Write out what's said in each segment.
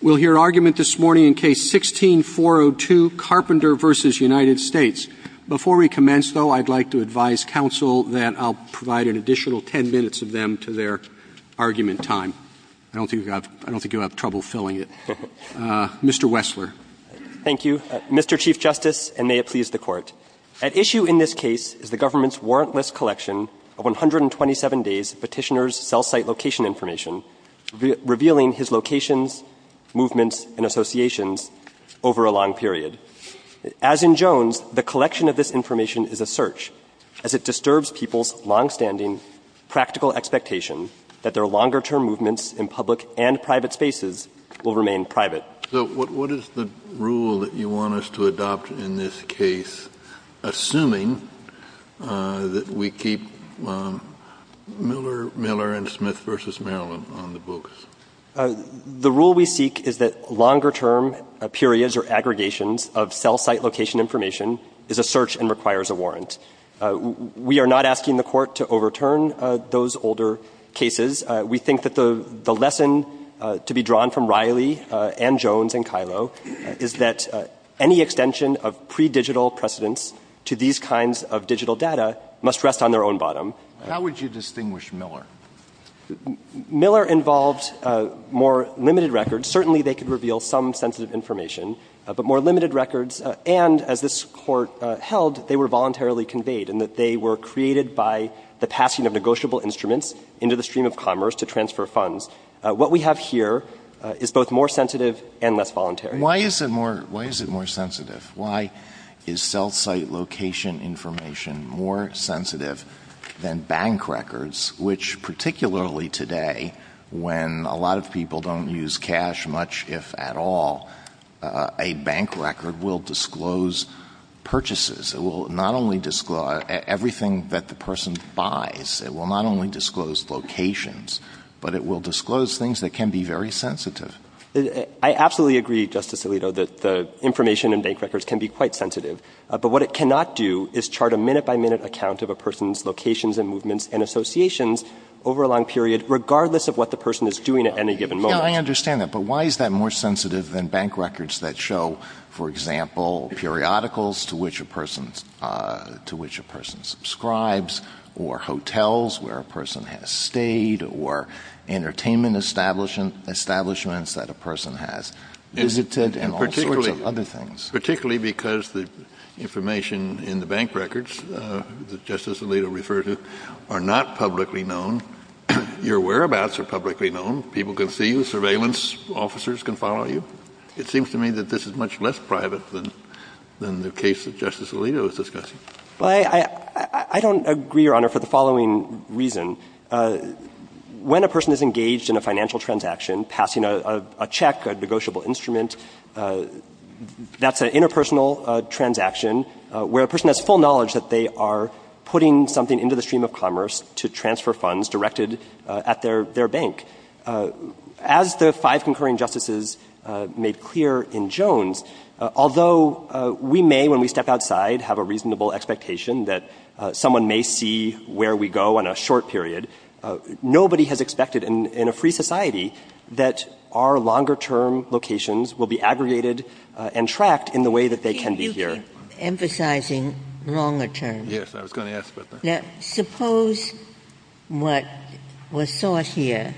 We'll hear argument this morning in Case 16-402, Carpenter v. United States. Before we commence, though, I'd like to advise counsel that I'll provide an additional 10 minutes of them to their argument time. I don't think you'll have trouble filling it. Mr. Wessler. Thank you, Mr. Chief Justice, and may it please the Court. At issue in this case is the government's warrantless collection of 127 days petitioner's cell site location information, revealing his locations, movements, and associations over a long period. As in Jones, the collection of this information is a search, as it disturbs people's longstanding practical expectations that their longer-term movements in public and private spaces will remain private. So what is the rule that you want us to adopt in this case, assuming that we keep Miller v. Smith v. Maryland on the books? The rule we seek is that longer-term periods or aggregations of cell site location information is a search and requires a warrant. We are not asking the Court to overturn those older cases. We think that the lesson to be drawn from Riley and Jones and Kylo is that any extension of pre-digital precedents to these kinds of digital data must rest on their own bottom. How would you distinguish Miller? Miller involved more limited records. Certainly they could reveal some sensitive information, but more limited records. And as this Court held, they were voluntarily conveyed, in that they were created by the passing of negotiable instruments into the stream of commerce to transfer funds. What we have here is both more sensitive and less voluntary. Why is it more sensitive? Why is cell site location information more sensitive than bank records, which particularly today, when a lot of people don't use cash much, if at all, a bank record will disclose purchases. It will not only disclose everything that the person buys. It will not only disclose locations, but it will disclose things that can be very sensitive. I absolutely agree, Justice Alito, that the information in bank records can be quite sensitive. But what it cannot do is chart a minute-by-minute account of a person's locations and movements and associations over a long period, regardless of what the person is doing at any given moment. I understand that, but why is that more sensitive than bank records that show, for example, periodicals to which a person subscribes or hotels where a person has stayed or entertainment establishments that a person has visited and all sorts of other things? Particularly because the information in the bank records that Justice Alito referred to are not publicly known. Your whereabouts are publicly known. People can see you. Surveillance officers can follow you. It seems to me that this is much less private than the case that Justice Alito is discussing. I don't agree, Your Honor, for the following reason. When a person is engaged in a financial transaction, passing a check, a negotiable instrument, that's an interpersonal transaction where a person has full knowledge that they are putting something into the stream of commerce to transfer funds directed at their bank. As the five concurring justices made clear in Jones, although we may, when we step outside, have a reasonable expectation that someone may see where we go in a short period, nobody has expected in a free society that our longer-term locations will be aggregated and tracked in the way that they can be here. You keep emphasizing longer terms. Yes, I was going to ask about that. Now, suppose what was thought here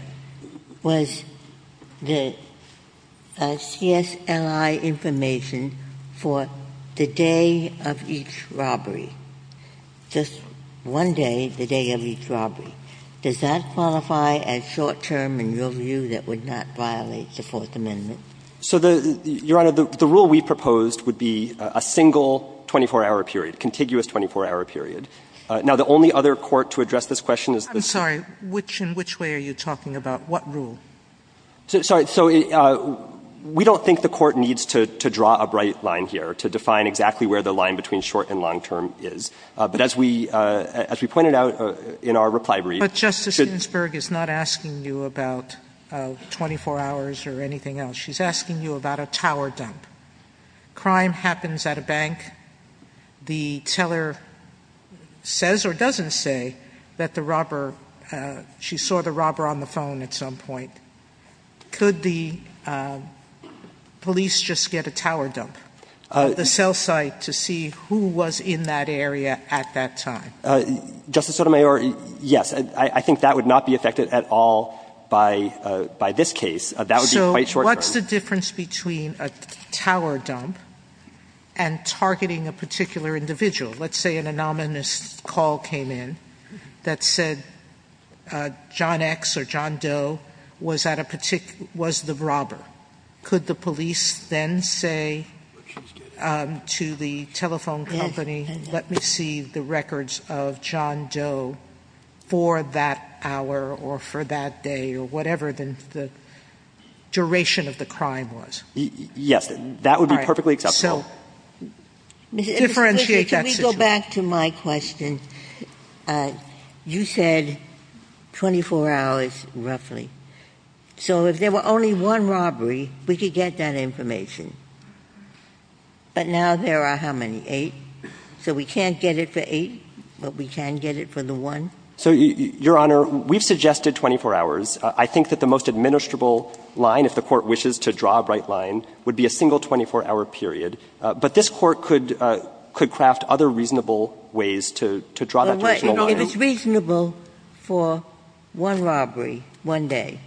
was the CSLI information for the day of each robbery, just one day, the day of each robbery. Does that qualify as short-term in your view that would not violate the Fourth Amendment? So, Your Honor, the rule we proposed would be a single 24-hour period, contiguous 24-hour period. Now, the only other court to address this question is the State. I'm sorry. In which way are you talking about? What rule? So, we don't think the court needs to draw a bright line here to define exactly where the line between short and long-term is. But as we pointed out in our reply brief. But Justice Ginsburg is not asking you about 24 hours or anything else. She's asking you about a tower dump. Crime happens at a bank. The teller says or doesn't say that the robber, she saw the robber on the phone at some point. Could the police just get a tower dump at the cell site to see who was in that area at that time? Justice Sotomayor, yes. I think that would not be affected at all by this case. So, what's the difference between a tower dump and targeting a particular individual? Let's say an anonymous call came in that said John X or John Doe was the robber. Could the police then say to the telephone company, let me see the records of John Doe for that hour or for that day or whatever the duration of the crime was? Yes, that would be perfectly acceptable. Can we go back to my question? You said 24 hours roughly. So, if there were only one robbery, would you get that information? But now there are how many, eight? So, we can't get it for eight, but we can get it for the one? So, Your Honor, we've suggested 24 hours. I think that the most administrable line, if the court wishes to draw a bright line, would be a single 24-hour period. But this court could craft other reasonable ways to draw that additional line. If it's reasonable for one robbery one day,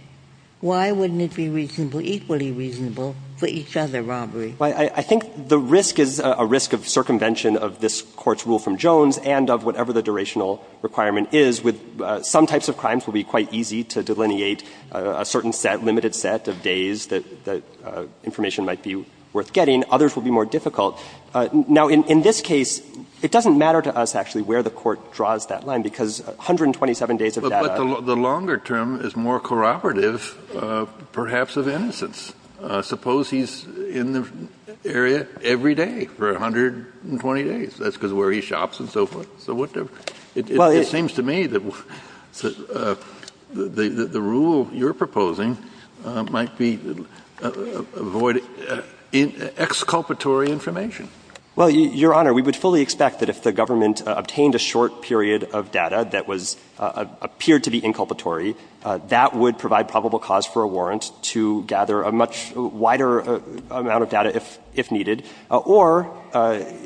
why wouldn't it be equally reasonable for each other robberies? I think the risk is a risk of circumvention of this court's rule from Jones and of whatever the durational requirement is. Some types of crimes will be quite easy to delineate a certain set, limited set of days that information might be worth getting. Others will be more difficult. Now, in this case, it doesn't matter to us actually where the court draws that line because 127 days of data. But the longer term is more corroborative, perhaps, of innocence. Suppose he's in the area every day for 120 days. That's because of where he shops and so forth. It seems to me that the rule you're proposing might be to avoid exculpatory information. Well, Your Honor, we would fully expect that if the government obtained a short period of data that appeared to be inculpatory, that would provide probable cause for a warrant to gather a much wider amount of data if needed. Or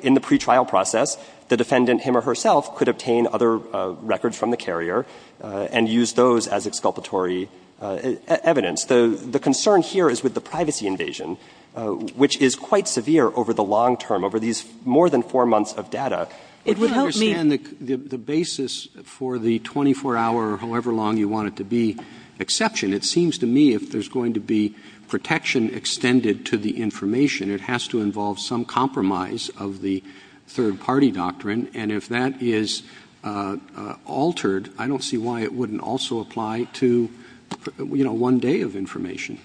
in the pretrial process, the defendant him or herself could obtain other records from the carrier and use those as exculpatory evidence. The concern here is with the privacy invasion, which is quite severe over the long term, over these more than four months of data. It would help me understand the basis for the 24-hour or however long you want it to be exception. It seems to me if there's going to be protection extended to the information, it has to involve some compromise of the third-party doctrine. And if that is altered, I don't see why it wouldn't also apply to one day of information.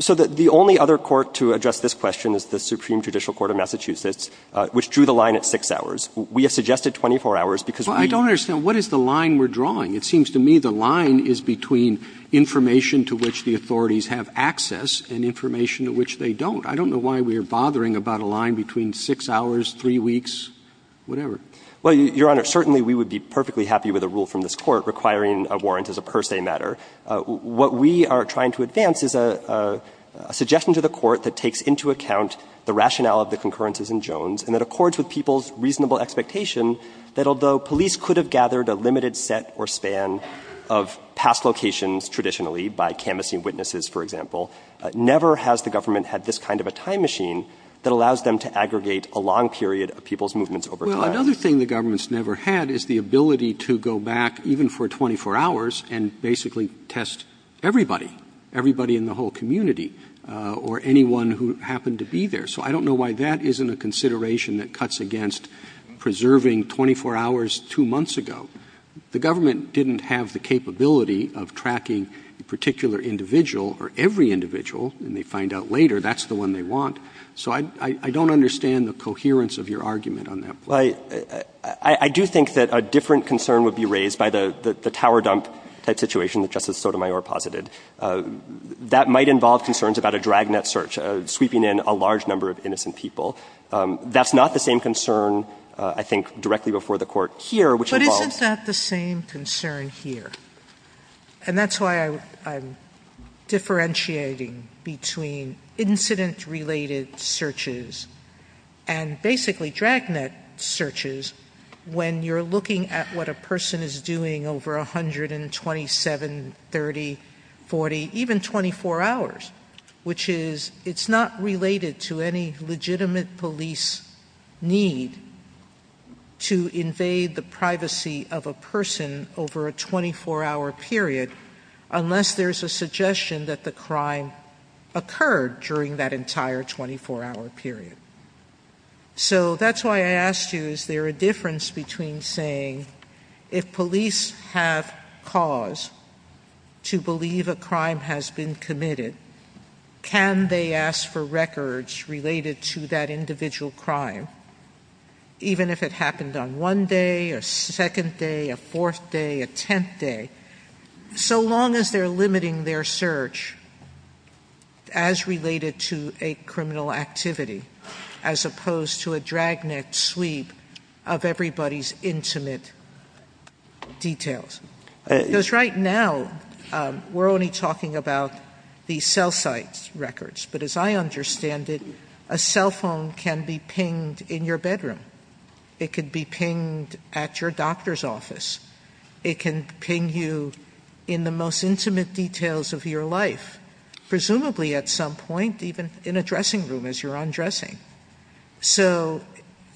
So the only other court to address this question is the Supreme Judicial Court of Massachusetts, which drew the line at six hours. We have suggested 24 hours because we don't understand what is the line we're drawing. It seems to me the line is between information to which the authorities have access and information to which they don't. I don't know why we are bothering about a line between six hours, three weeks, whatever. Well, Your Honor, certainly we would be perfectly happy with a rule from this court requiring a warrant as a per se matter. What we are trying to advance is a suggestion to the court that takes into account the rationale of the concurrences in Jones and that accords with people's reasonable expectation that although police could have gathered a limited set or span of past locations traditionally by canvassing witnesses, for example, never has the government had this kind of a time machine that allows them to aggregate a long period of people's movements over time. Well, another thing the government's never had is the ability to go back even for 24 hours and basically test everybody, everybody in the whole community or anyone who happened to be there. So I don't know why that isn't a consideration that cuts against preserving 24 hours two months ago. The government didn't have the capability of tracking a particular individual or every individual, and they find out later that's the one they want. So I don't understand the coherence of your argument on that. I do think that a different concern would be raised by the tower dump type situation that Justice Sotomayor posited. That might involve concerns about a dragnet search, sweeping in a large number of innocent people. That's not the same concern, I think, directly before the court here, which involves... Well, isn't that the same concern here? And that's why I'm differentiating between incident-related searches and basically dragnet searches when you're looking at what a person is doing over 127, 30, 40, even 24 hours, which is it's not related to any legitimate police need to invade the privacy of a person over a 24-hour period unless there's a suggestion that the crime occurred during that entire 24-hour period. So that's why I asked you, is there a difference between saying if police have cause to believe a crime has been committed, can they ask for records related to that individual crime, even if it happened on one day, a second day, a fourth day, a tenth day, so long as they're limiting their search as related to a criminal activity as opposed to a dragnet sweep of everybody's intimate details? Because right now, we're only talking about the cell site records, but as I understand it, a cell phone can be pinged in your bedroom. It could be pinged at your doctor's office. It can ping you in the most intimate details of your life, presumably at some point, even in a dressing room as you're undressing. So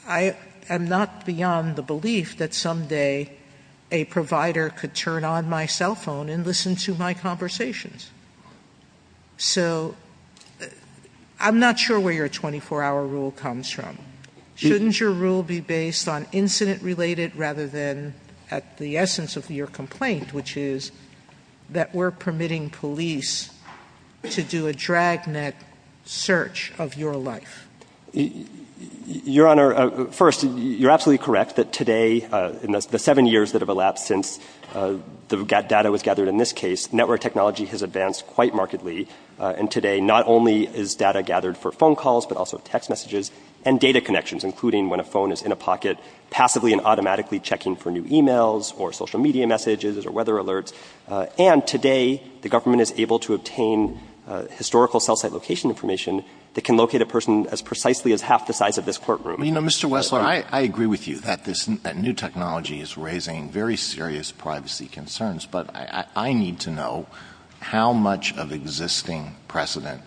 I am not beyond the belief that someday a provider could turn on my cell phone and listen to my conversations. So I'm not sure where your 24-hour rule comes from. Shouldn't your rule be based on incident-related rather than at the essence of your complaint, which is that we're permitting police to do a dragnet search of your life? Your Honor, first, you're absolutely correct that today, in the seven years that have elapsed since the data was gathered in this case, network technology has advanced quite markedly, and today not only is data gathered for phone calls but also text messages and data connections, including when a phone is in a pocket, passively and automatically checking for new e-mails or social media messages or weather alerts. And today the government is able to obtain historical cell site location information that can locate a person as precisely as half the size of this courtroom. Mr. Westlaw, I agree with you that new technology is raising very serious privacy concerns, but I need to know how much of existing precedent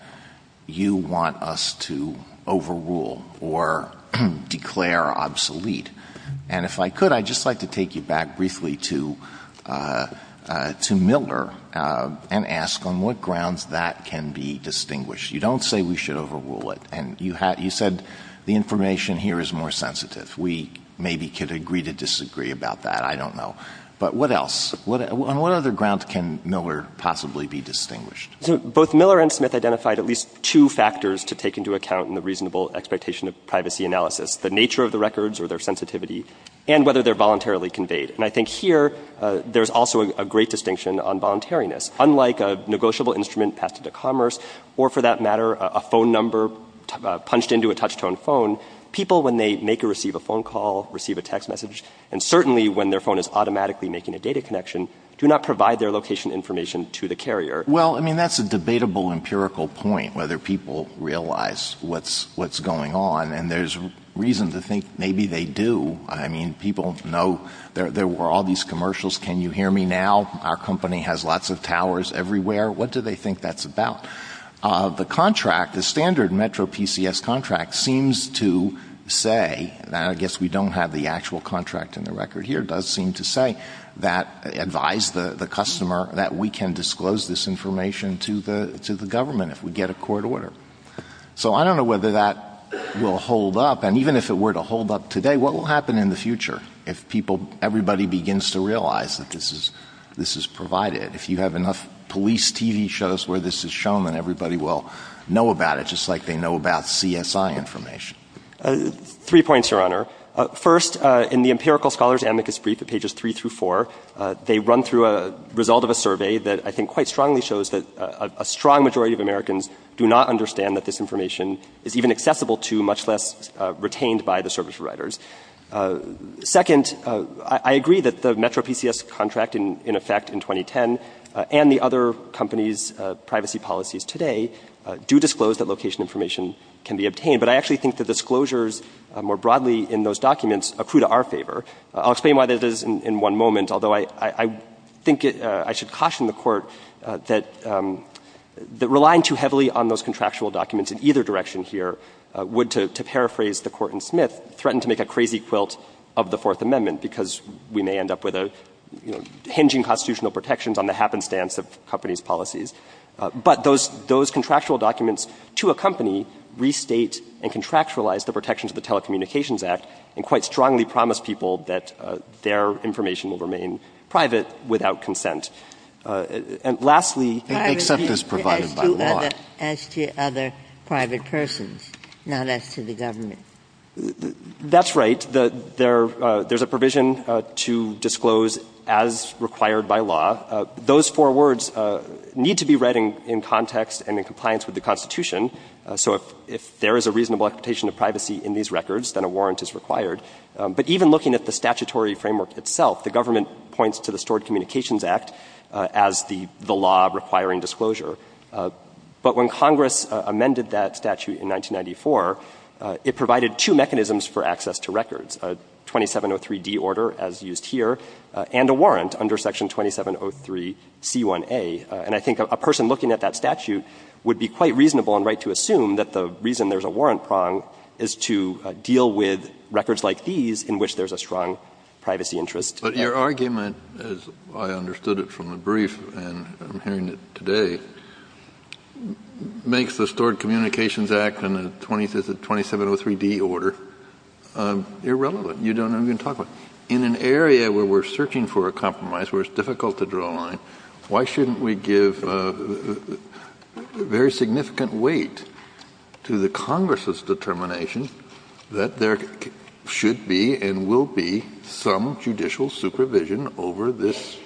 you want us to overrule or declare obsolete. And if I could, I'd just like to take you back briefly to Miller and ask on what grounds that can be distinguished. You don't say we should overrule it. You said the information here is more sensitive. We maybe could agree to disagree about that. I don't know. But what else? On what other grounds can Miller possibly be distinguished? Both Miller and Smith identified at least two factors to take into account in the reasonable expectation of privacy analysis. The nature of the records or their sensitivity and whether they're voluntarily conveyed. And I think here there's also a great distinction on voluntariness. Unlike a negotiable instrument passed into commerce or, for that matter, a phone number punched into a touch-tone phone, people, when they make or receive a phone call, receive a text message, and certainly when their phone is automatically making a data connection, do not provide their location information to the carrier. Well, I mean, that's a debatable empirical point, whether people realize what's going on. And there's reason to think maybe they do. I mean, people know there were all these commercials. Can you hear me now? Our company has lots of towers everywhere. What do they think that's about? The contract, the standard Metro PCS contract, seems to say, and I guess we don't have the actual contract in the record here, does seem to say that it advised the customer that we can disclose this information to the government if we get a court order. So I don't know whether that will hold up. And even if it were to hold up today, what will happen in the future if everybody begins to realize that this is provided? If you have enough police TV shows where this is shown, then everybody will know about it, just like they know about CSI information. Three points, Your Honor. First, in the empirical scholars' amicus brief at pages 3 through 4, they run through a result of a survey that I think quite strongly shows that a strong majority of Americans do not understand that this information is even accessible to, much less retained by, the service providers. Second, I agree that the Metro PCS contract in effect in 2010 and the other companies' privacy policies today do disclose that location information can be obtained, but I actually think the disclosures more broadly in those documents accrue to our favor. I'll explain why that is in one moment, although I think I should caution the Court that relying too heavily on those contractual documents in either direction here would, to paraphrase the Court in Smith, threaten to make a crazy quilt of the Fourth Amendment because we may end up with a, you know, hinging constitutional protections on the happenstance of companies' policies. But those contractual documents to a company restate and contractualize the protections of the Telecommunications Act and quite strongly promise people that their information will remain private without consent. And lastly, access is provided by law. Privacy as to other private persons, not as to the government. That's right. There's a provision to disclose as required by law. Those four words need to be read in context and in compliance with the Constitution. So if there is a reasonable expectation of privacy in these records, then a warrant is required. But even looking at the statutory framework itself, the government points to the Stored Communications Act as the law requiring disclosure. But when Congress amended that statute in 1994, it provided two mechanisms for access to records, a 2703D order, as used here, and a warrant under Section 2703C1A. And I think a person looking at that statute would be quite reasonable and right to assume that the reason there's a warrant prong is to deal with records like these in which there's a strong privacy interest. But your argument, as I understood it from the brief and I'm hearing it today, makes the Stored Communications Act and the 2703D order irrelevant. You don't even talk about it. In an area where we're searching for a compromise, where it's difficult to draw a line, why shouldn't we give very significant weight to the Congress's determination that there should be and will be some judicial supervision over these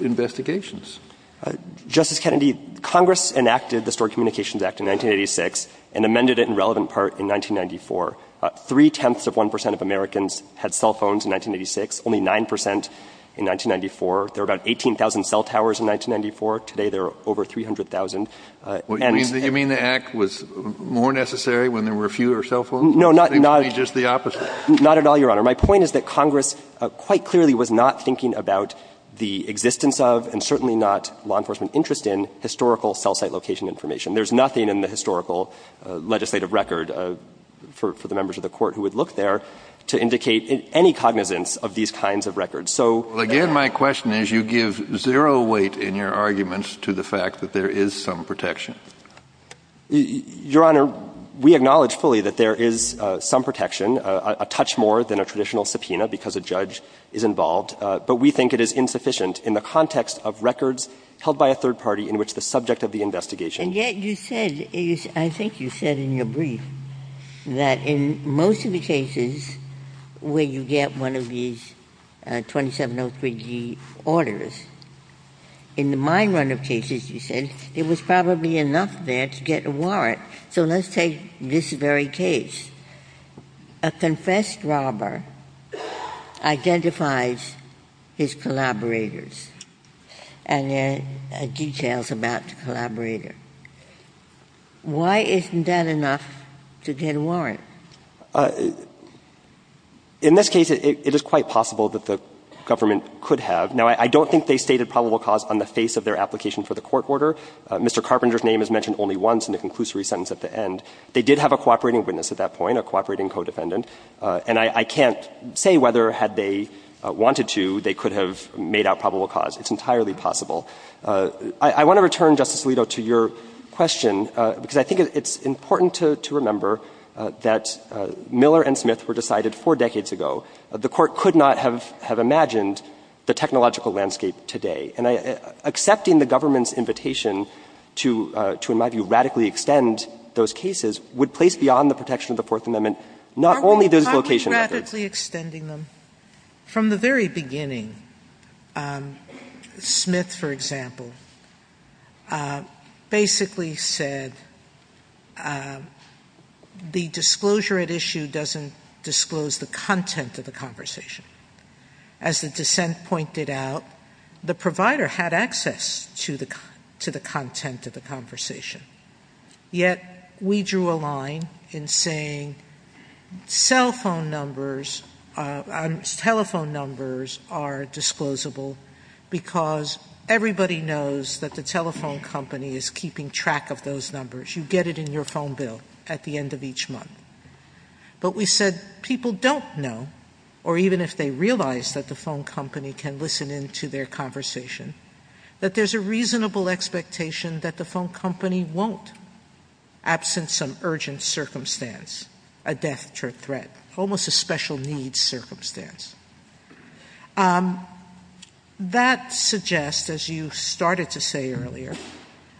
investigations? Justice Kennedy, Congress enacted the Stored Communications Act in 1986 and amended it in relevant part in 1994. Three-tenths of one percent of Americans had cell phones in 1986. Only nine percent in 1994. There were about 18,000 cell towers in 1994. Today, there are over 300,000. You mean the Act was more necessary when there were fewer cell phones? No, not at all. I think it would be just the opposite. Not at all, Your Honor. My point is that Congress quite clearly was not thinking about the existence of and certainly not law enforcement interest in historical cell site location information. There's nothing in the historical legislative record for the members of the Court who would look there to indicate any cognizance of these kinds of records. Well, again, my question is you give zero weight in your arguments to the fact that there is some protection. Your Honor, we acknowledge fully that there is some protection, a touch more than a traditional subpoena because a judge is involved, but we think it is insufficient in the context of records held by a third party in which the subject of the investigation. And yet you said, I think you said in your brief, that in most of the cases where you get one of these 2703G orders, in the mine runner cases, you said, it was probably enough there to get a warrant. So let's take this very case. A confessed robber identifies his collaborators and there are details about the collaborator. Why isn't that enough to get a warrant? In this case, it is quite possible that the government could have. Now, I don't think they stated probable cause on the face of their application for the court order. Mr. Carpenter's name is mentioned only once in the conclusory sentence at the end. They did have a cooperating witness at that point, a cooperating codependent, and I can't say whether had they wanted to, they could have made out probable cause. It's entirely possible. I want to return, Justice Alito, to your question because I think it's important to remember that Miller and Smith were decided four decades ago. The court could not have imagined the technological landscape today. Accepting the government's invitation to, in my view, radically extend those cases would place beyond the protection of the Fourth Amendment, not only those location efforts. From the very beginning, Smith, for example, basically said the disclosure at issue doesn't disclose the content of the conversation. As the dissent pointed out, the provider had access to the content of the conversation. Yet, we drew a line in saying cell phone numbers, telephone numbers are disclosable because everybody knows that the telephone company is keeping track of those numbers. You get it in your phone bill at the end of each month. But we said people don't know, or even if they realize that the phone company can listen into their conversation, that there's a reasonable expectation that the phone company won't, absent some urgent circumstance, a death threat, almost a special needs circumstance. That suggests, as you started to say earlier,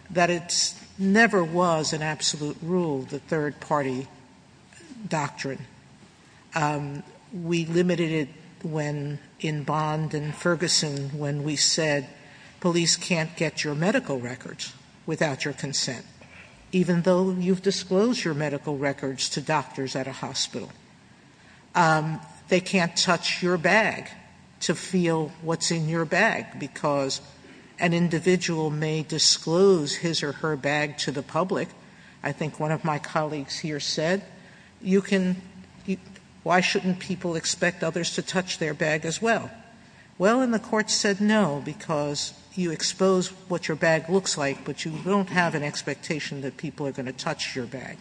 that it never was an absolute rule of the third party doctrine. We limited it in Bond and Ferguson when we said police can't get your medical records without your consent, even though you've disclosed your medical records to doctors at a hospital. They can't touch your bag to feel what's in your bag, because an individual may disclose his or her bag to the public. I think one of my colleagues here said, why shouldn't people expect others to touch their bag as well? Well, and the court said no, because you expose what your bag looks like, but you don't have an expectation that people are going to touch your bag.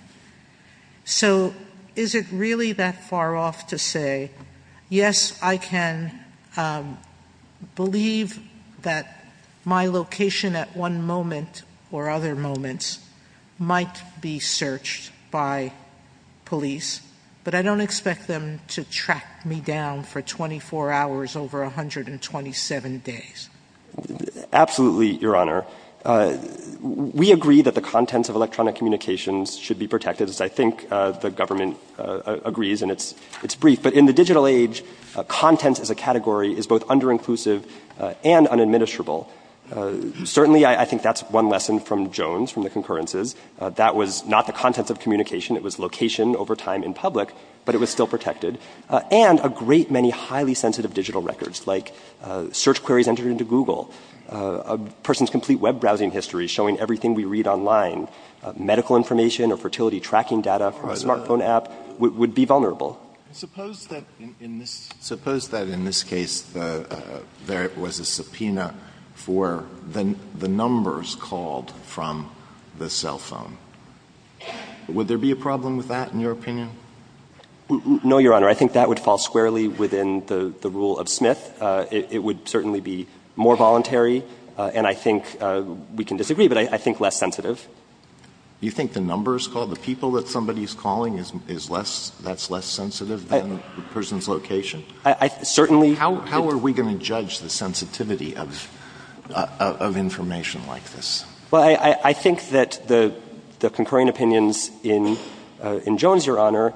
So is it really that far off to say, yes, I can believe that my location at one moment or other moments might be searched by police, but I don't expect them to track me down for 24 hours over 127 days? Absolutely, Your Honor. We agree that the contents of electronic communications should be protected, as I think the government agrees, and it's brief. But in the digital age, content as a category is both under-inclusive and unadministrable. Certainly, I think that's one lesson from Jones, from the concurrences. That was not the contents of communication, it was location over time in public, but it was still protected, and a great many highly sensitive digital records, like search queries entered into Google, a person's complete web browsing history showing everything we read online, medical information or fertility tracking data from a smartphone app would be vulnerable. I'm not sure I understand that. Would there be a problem with that, in your opinion? No, Your Honor. I think that would fall squarely within the rule of Smith. It would certainly be more voluntary, and I think we can disagree, but I think less sensitive. You think the numbers called, the people that somebody is calling, that's less sensitive than the person's location? Certainly. How are we going to judge the sensitivity of information like this? Well, I think that the concurring opinions in Jones, Your Honor,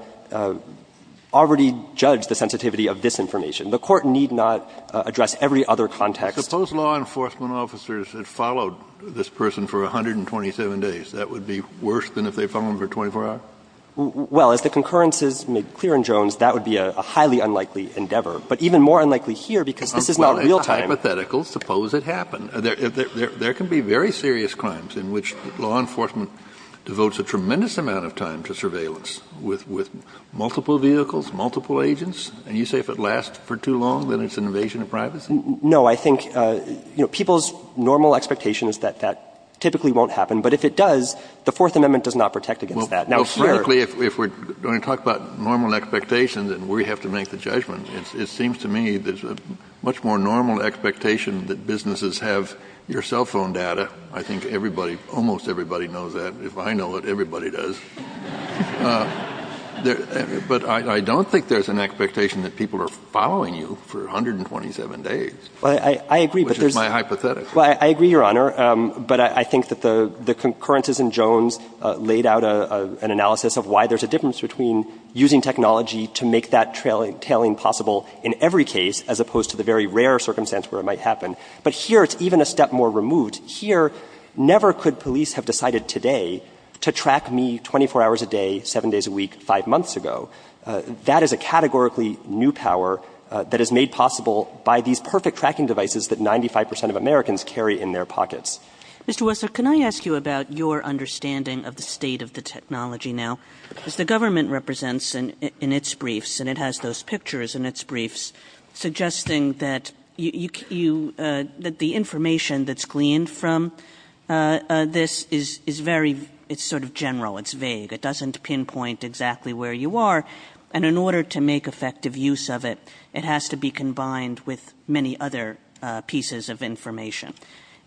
already judged the sensitivity of this information. The Court need not address every other context. Suppose law enforcement officers had followed this person for 127 days. That would be worse than if they followed him for 24 hours? Well, if the concurrence is made clear in Jones, that would be a highly unlikely endeavor, but even more unlikely here because this is not real time. Hypothetically, suppose it happened. There can be very serious crimes in which law enforcement devotes a tremendous amount of time to surveillance with multiple vehicles, multiple agents, and you say if it lasts for too long, then it's an invasion of privacy? No. I think people's normal expectation is that that typically won't happen, but if it does, the Fourth Amendment does not protect against that. Hypothetically, if we're going to talk about normal expectations, then we have to make the judgment. It seems to me there's a much more normal expectation that businesses have your cell phone data. I think almost everybody knows that. If I know it, everybody does. But I don't think there's an expectation that people are following you for 127 days, which is my hypothetic. I agree, Your Honor. But I think that the concurrence is in Jones laid out an analysis of why there's a difference between using technology to make that kind of detailing possible in every case, as opposed to the very rare circumstance where it might happen. But here, it's even a step more removed. Here, never could police have decided today to track me 24 hours a day, seven days a week, five months ago. That is a categorically new power that is made possible by these perfect tracking devices that 95 percent of Americans carry in their pockets. Mr. Wessler, can I ask you about your understanding of the state of the technology now? The government represents in its briefs, and it has those pictures in its briefs, suggesting that the information that's gleaned from this is very sort of general. It's vague. It doesn't pinpoint exactly where you are. And in order to make effective use of it, it has to be combined with many other pieces of information.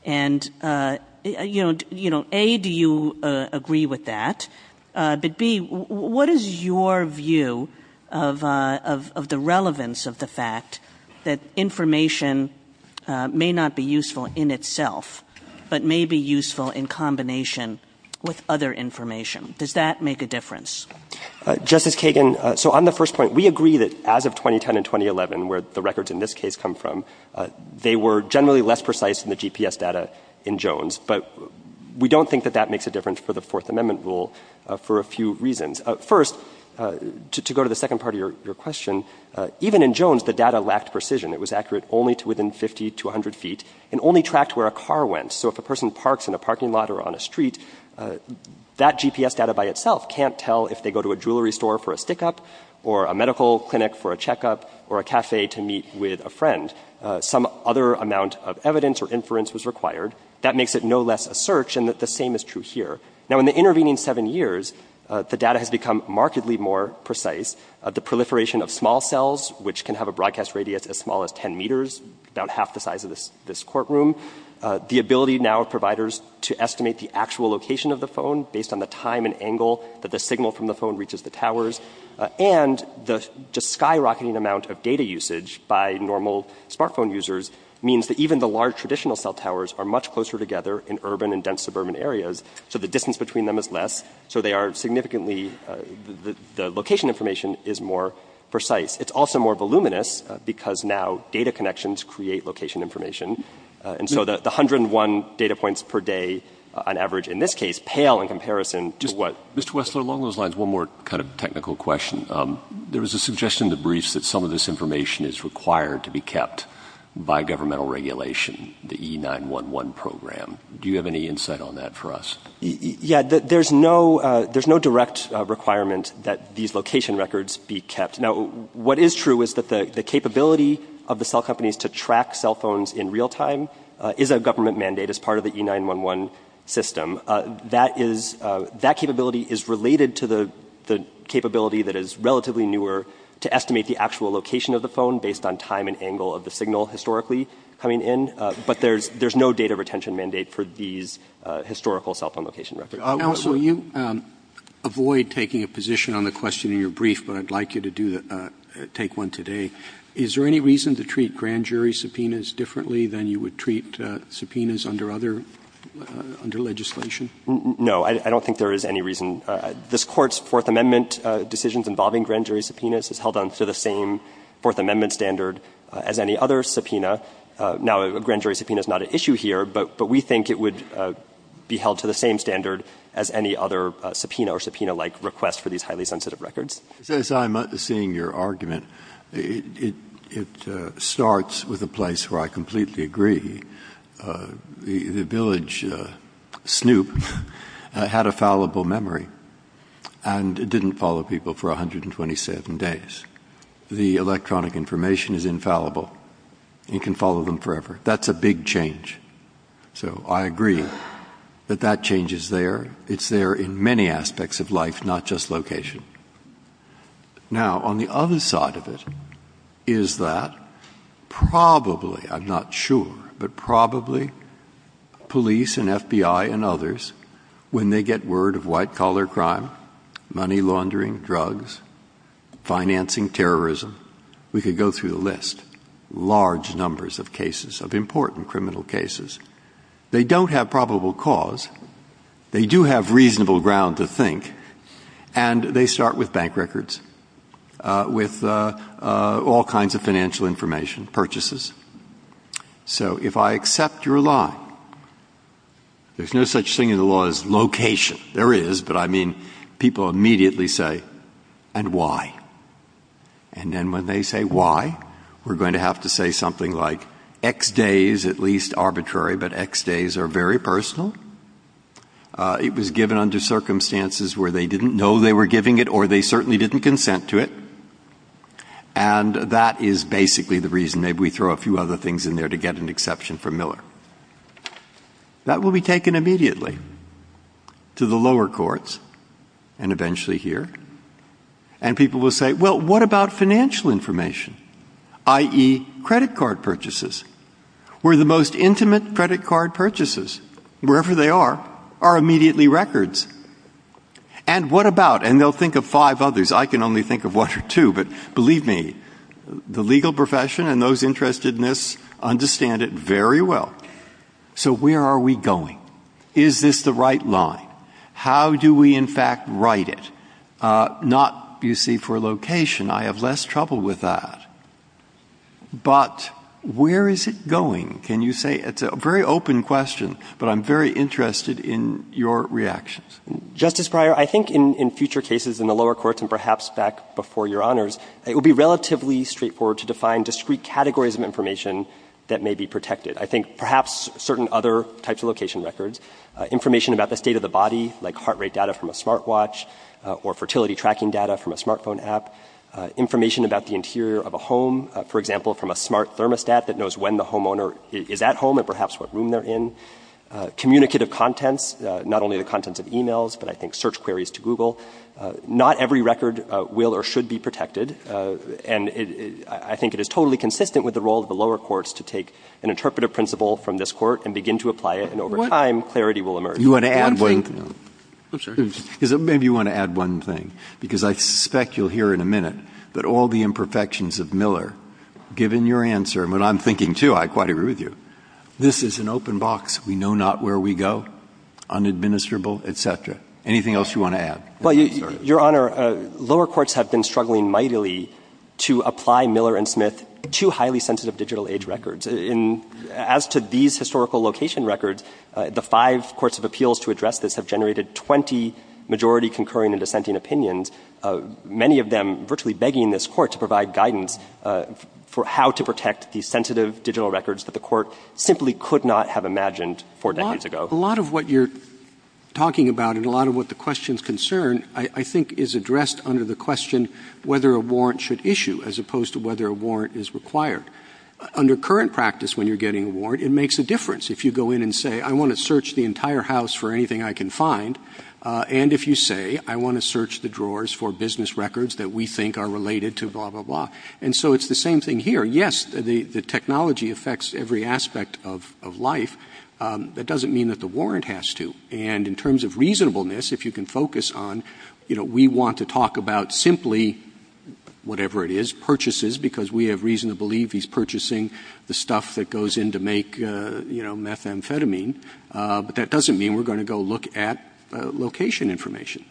And A, do you agree with that? But B, what is your view of the relevance of the fact that information may not be useful in itself, but may be useful in combination with other information? Does that make a difference? Justice Kagan, so on the first point, we agree that as of 2010 and 2011, where the records in this case come from, they were generally less precise than the GPS data in Jones. But we don't think that that makes a difference for the Fourth Amendment rule for a few reasons. First, to go to the second part of your question, even in Jones, the data lacked precision. It was accurate only to within 50 to 100 feet and only tracked where a car went. So if a person parks in a parking lot or on a street, that GPS data by itself can't tell if they go to a jewelry store for a stick up or a medical clinic for a checkup or a cafe to meet with a friend. Some other amount of evidence or inference was required. That makes it no less a search and that the same is true here. Now, in the intervening seven years, the data has become markedly more precise. The proliferation of small cells, which can have a broadcast radius as small as 10 meters, about half the size of this courtroom. The ability now of providers to estimate the actual location of the phone based on the time and angle that the signal from the phone reaches the towers. And the skyrocketing amount of data usage by normal smartphone users means that even the large traditional cell towers are much closer together in urban and dense suburban areas. So the distance between them is less. So they are significantly the location information is more precise. It's also more voluminous because now data connections create location information. And so the 101 data points per day on average, in this case, pale in comparison to what this was. So along those lines, one more kind of technical question. There was a suggestion in the briefs that some of this information is required to be kept by governmental regulation. The E911 program. Do you have any insight on that for us? Yeah, there's no direct requirement that these location records be kept. Now, what is true is that the capability of the cell companies to track cell phones in real time is a government mandate as part of the E911 system. That capability is related to the capability that is relatively newer to estimate the actual location of the phone based on time and angle of the signal historically coming in. But there's no data retention mandate for these historical cell phone location records. Now, so you avoid taking a position on the question in your brief, but I'd like you to take one today. Is there any reason to treat grand jury subpoenas differently than you would treat subpoenas under other legislation? No, I don't think there is any reason. This Court's Fourth Amendment decisions involving grand jury subpoenas is held on to the same Fourth Amendment standard as any other subpoena. Now, a grand jury subpoena is not an issue here, but we think it would be held to the same standard as any other subpoena or subpoena-like request for these highly sensitive records. As I'm seeing your argument, it starts with a place where I completely agree. The village, Snoop, had a fallible memory and it didn't follow people for 127 days. The electronic information is infallible. It can follow them forever. That's a big change. So I agree that that change is there. It's there in many aspects of life, not just location. Now, on the other side of it is that probably, I'm not sure, but probably police and FBI and others, when they get word of white-collar crime, money laundering, drugs, financing terrorism, we could go through the list. Large numbers of cases of important criminal cases. They don't have probable cause. They do have reasonable ground to think. And they start with bank records, with all kinds of financial information, purchases. So if I accept your law, there's no such thing in the law as location. There is, but I mean people immediately say, and why? And then when they say why, we're going to have to say something like X days, at least arbitrary, but X days are very personal. It was given under circumstances where they didn't know they were giving it or they certainly didn't consent to it. And that is basically the reason. Maybe we throw a few other things in there to get an exception from Miller. That will be taken immediately to the lower courts and eventually here. And people will say, well, what about financial information, i.e. credit card purchases? Where the most intimate credit card purchases, wherever they are, are immediately records. And what about, and they'll think of five others. I can only think of one or two, but believe me, the legal profession and those interested in this understand it very well. So where are we going? Is this the right line? How do we in fact write it? Not, you see, for location. I have less trouble with that. But where is it going? Can you say, it's a very open question, but I'm very interested in your reactions. Justice Breyer, I think in future cases in the lower courts and perhaps back before your honors, it would be relatively straightforward to define discrete categories of information that may be protected. I think perhaps certain other types of location records, information about the state of the body, like heart rate data from a smartwatch or fertility tracking data from a smartphone app, information about the interior of a home, for example, from a smart thermostat that knows when the homeowner is at home or perhaps what room they're in. Communicative content, not only the content of emails, but I think search queries to Google. Not every record will or should be protected. And I think it is totally consistent with the role of the lower courts to take an interpretive principle from this court and begin to apply it. And over time, clarity will emerge. You want to add one? Maybe you want to add one thing, because I suspect you'll hear in a minute that all the imperfections of Miller, given your answer, and what I'm thinking too, I quite agree with you. This is an open box. We know not where we go, unadministrable, etc. Anything else you want to add? Your Honor, lower courts have been struggling mightily to apply Miller and Smith to highly sensitive digital age records. As to these historical location records, the five courts of appeals to address this have generated 20 majority concurring and dissenting opinions, many of them virtually begging this court to provide guidance for how to protect these sensitive digital records that the court simply could not have imagined four decades ago. A lot of what you're talking about and a lot of what the question is concerned I think is addressed under the question whether a warrant should issue as opposed to whether a warrant is required. Under current practice, when you're getting a warrant, it makes a difference. If you go in and say, I want to search the entire house for anything I can find, and if you say, I want to search the drawers for business records that we think are related to blah, blah, blah. And so it's the same thing here. Yes, the technology affects every aspect of life, but it doesn't mean that the warrant has to. And in terms of reasonableness, if you can focus on, we want to talk about simply, whatever it is, we have reason to believe he's purchasing the stuff that goes in to make methamphetamine, but that doesn't mean we're going to go look at location information.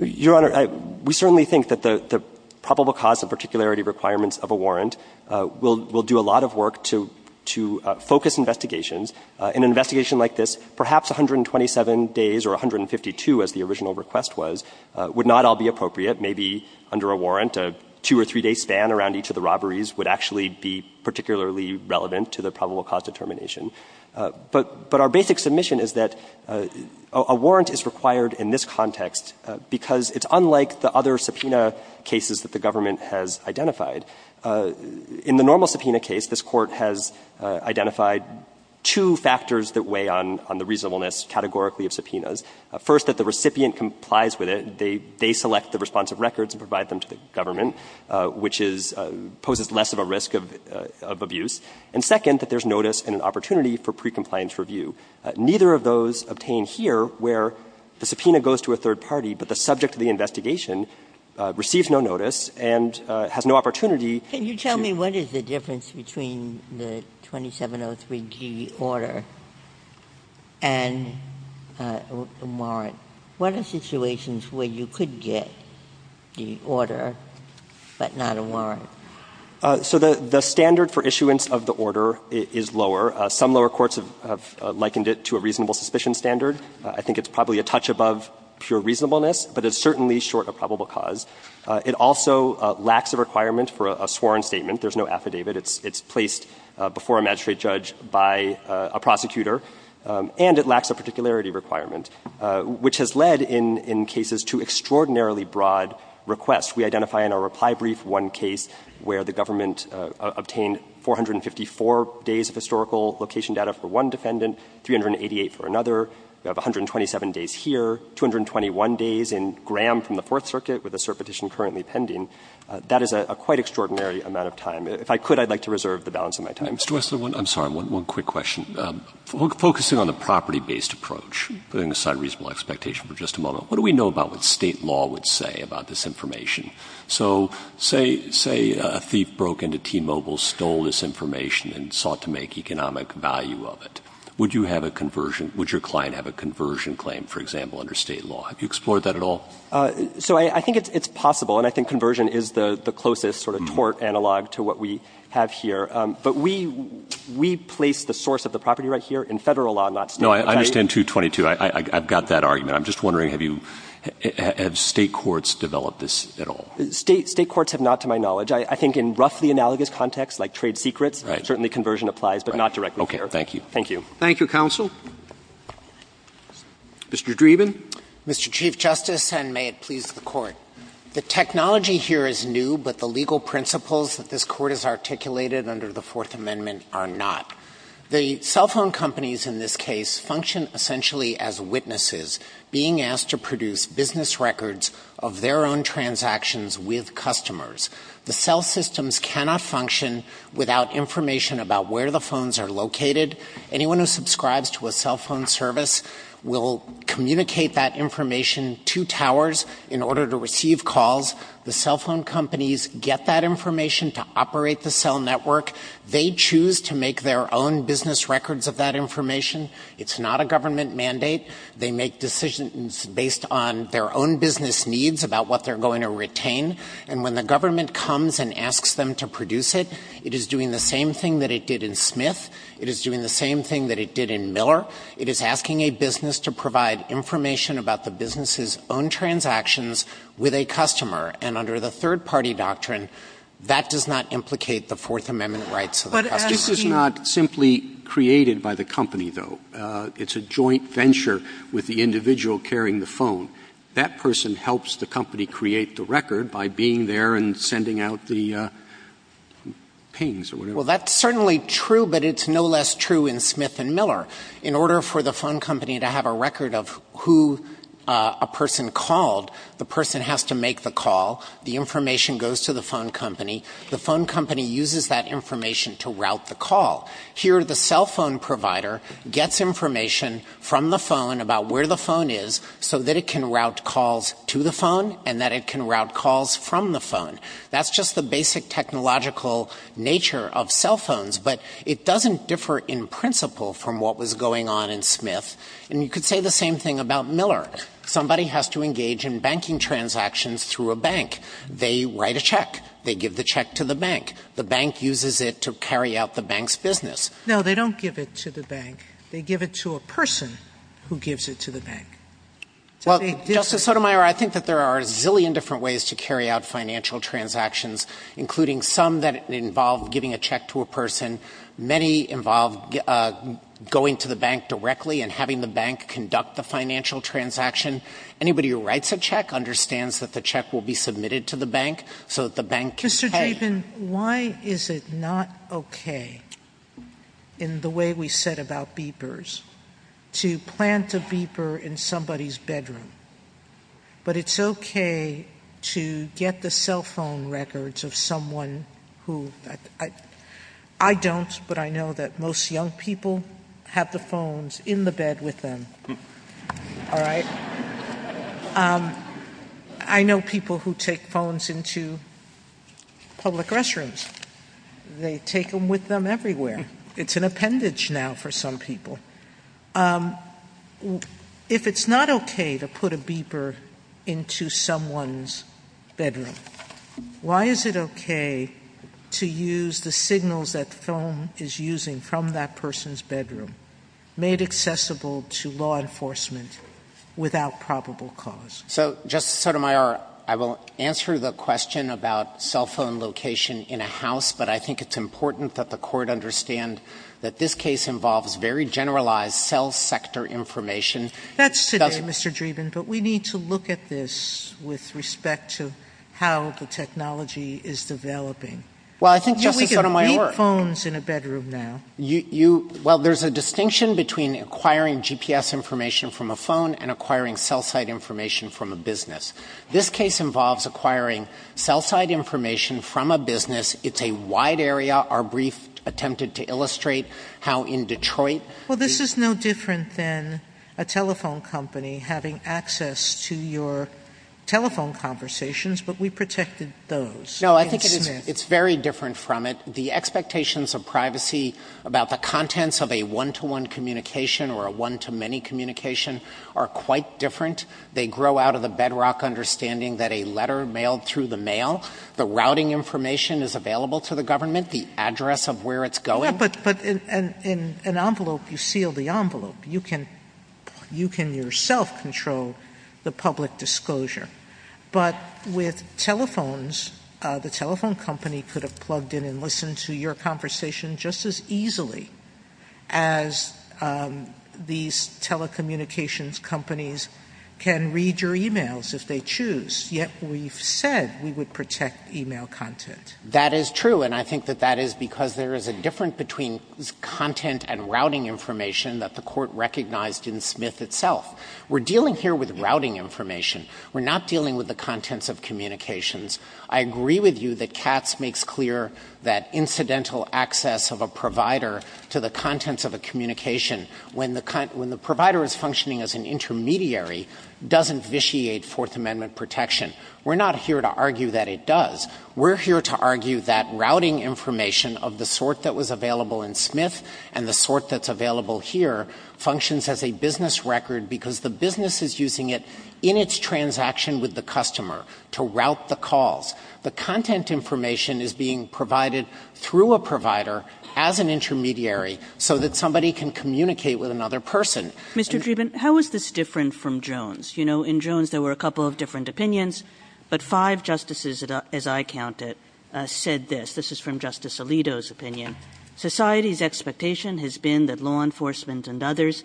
Your Honor, we certainly think that the probable cause of particularity requirements of a warrant will do a lot of work to focus investigations. In an investigation like this, perhaps 127 days or 152, as the original request was, would not all be appropriate. Maybe under a warrant, a two or three day span around each of the robberies would actually be particularly relevant to the probable cause determination. But our basic submission is that a warrant is required in this context because it's unlike the other subpoena cases that the government has identified. In the normal subpoena case, this court has identified two factors that weigh on the reasonableness categorically of subpoenas. First, that the recipient complies with it. They select the responsive records and provide them to the government, which poses less of a risk of abuse. And second, that there's notice and an opportunity for pre-compliance review. Neither of those obtain here, where the subpoena goes to a third party, but the subject of the investigation receives no notice and has no opportunity... Can you tell me what is the difference between the 2703G order and a warrant? What are situations where you could get the order, but not a warrant? So the standard for issuance of the order is lower. Some lower courts have likened it to a reasonable suspicion standard. I think it's probably a touch above pure reasonableness, but it's certainly short of probable cause. It also lacks a requirement for a sworn statement. There's no affidavit. It's placed before a magistrate judge by a prosecutor, and it lacks a particularity requirement, which has led, in cases, to extraordinarily broad requests. We identify in our reply brief one case where the government obtained 454 days of historical location data for one defendant, 388 for another, 127 days here, 221 days in Graham from the Fourth Circuit, with a cert petition currently pending. That is a quite extraordinary amount of time. If I could, I'd like to reserve the balance of my time. I'm sorry, one quick question. Focusing on the property-based approach, putting aside reasonable expectation for just a moment, what do we know about what state law would say about this information? So say a thief broke into T-Mobile, stole this information, and sought to make economic value of it. Would you have a conversion? Would your client have a conversion claim, for example, under state law? Have you explored that at all? So I think it's possible, and I think conversion is the closest sort of tort analog to what we have here. But we place the source of the property right here in federal law, not state. No, I understand 222. I've got that argument. I'm just wondering, have state courts developed this at all? State courts have not, to my knowledge. I think in roughly analogous contexts like trade secrets, certainly conversion applies, but not directly there. Okay, thank you. Thank you. Thank you, counsel. Mr. Dreeben? Mr. Chief Justice, and may it please the Court, the technology here is new, but the legal principles that this Court has articulated under the Fourth Amendment are not. The cell phone companies in this case function essentially as witnesses being asked to produce business records of their own transactions with customers. The cell systems cannot function without information about where the phones are located. Anyone who subscribes to a cell phone service will communicate that information to towers in order to receive calls. The cell phone companies get that information to operate the cell network. They choose to make their own business records of that information. It's not a government mandate. They make decisions based on their own business needs about what they're going to retain. And when the government comes and asks them to produce it, it is doing the same thing that it did in Smith. It is doing the same thing that it did in Miller. It is asking a business to provide information about the business's own transactions with a customer. And under the third-party doctrine, that does not implicate the Fourth Amendment rights of the company. This is not simply created by the company, though. It's a joint venture with the individual carrying the phone. That person helps the company create the record by being there and sending out the pings. Well, that's certainly true, but it's no less true in Smith and Miller. In order for the phone company to have a record of who a person called, the person has to make the call. The information goes to the phone company. The phone company uses that information to route the call. Here, the cell phone provider gets information from the phone about where the phone is so that it can route calls to the phone and that it can route calls from the phone. That's just the basic technological nature of cell phones, but it doesn't differ in principle from what was going on in Smith. And you could say the same thing about Miller. Somebody has to engage in banking transactions through a bank. They write a check. They give the check to the bank. The bank uses it to carry out the bank's business. No, they don't give it to the bank. They give it to a person who gives it to the bank. Well, Justice Sotomayor, I think that there are a zillion different ways to carry out financial transactions, including some that involve giving a check to a person. Many involve going to the bank directly and having the bank conduct the financial transaction. Anybody who writes a check understands that the check will be submitted to the bank so that the bank can pay. Mr. Chapin, why is it not okay, in the way we said about beepers, to plant a beeper in somebody's bedroom? But it's okay to get the cell phone records of someone who... I don't, but I know that most young people have the phones in the bed with them. All right? I know people who take phones into public restrooms. They take them with them everywhere. It's an appendage now for some people. If it's not okay to put a beeper into someone's bedroom, why is it okay to use the signals that the phone is using from that person's bedroom, made accessible to law enforcement without probable cause? So, Justice Sotomayor, I will answer the question about cell phone location in a house, but I think it's important that the Court understand that this case involves very generalized cell sector information. That's today, Mr. Dreeben, but we need to look at this with respect to how the technology is developing. Well, I think Justice Sotomayor... Who has phones in a bedroom now? Well, there's a distinction between acquiring GPS information from a phone and acquiring cell site information from a business. This case involves acquiring cell site information from a business. It's a wide area. Our brief attempted to illustrate how in Detroit... Well, this is no different than a telephone company having access to your telephone conversations, but we protected those. No, I think it's very different from it. The communications of privacy about the contents of a one-to-one communication or a one-to-many communication are quite different. They grow out of the bedrock understanding that a letter mailed to the mail, the routing information is available to the government, the address of where it's going... Yeah, but in an envelope, you seal the envelope. You can yourself control the public disclosure, but with telephones, the telephone company could have plugged in and listened to your conversation just as easily as these telecommunications companies can read your emails if they choose, yet we've said we would protect email content. That is true, and I think that that is because there is a difference between content and routing information that the court recognized in Smith itself. We're dealing here with routing information. We're not dealing with the contents of communications. I agree with you that Katz makes clear that incidental access of a provider to the contents of a communication when the provider is functioning as an intermediary doesn't vitiate Fourth Amendment protection. We're not here to argue that it does. We're here to argue that routing information of the sort that was available in Smith and the sort that's available here functions as a business record because the business is using it in its transaction with the customer to route the calls. The content information is being provided through a provider as an intermediary so that somebody can communicate with another person. Mr. Treven, how is this different from Jones? You know, in Jones there were a couple of different opinions, but five justices, as I counted, said this. This is from Justice Alito's opinion. Society's expectation has been that law enforcement and others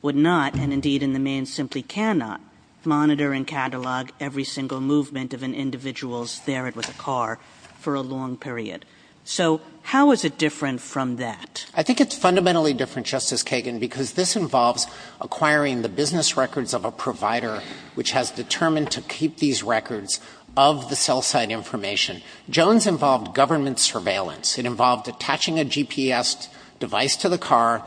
would not, and indeed in the main, simply cannot monitor and catalog every single movement of an individual's there with a car for a long period. So how is it different from that? I think it's fundamentally different, Justice Kagan, because this involves acquiring the business records of a provider which has determined to keep these records of the cell site information. Jones involved government surveillance. It involved attaching a GPS device to the car.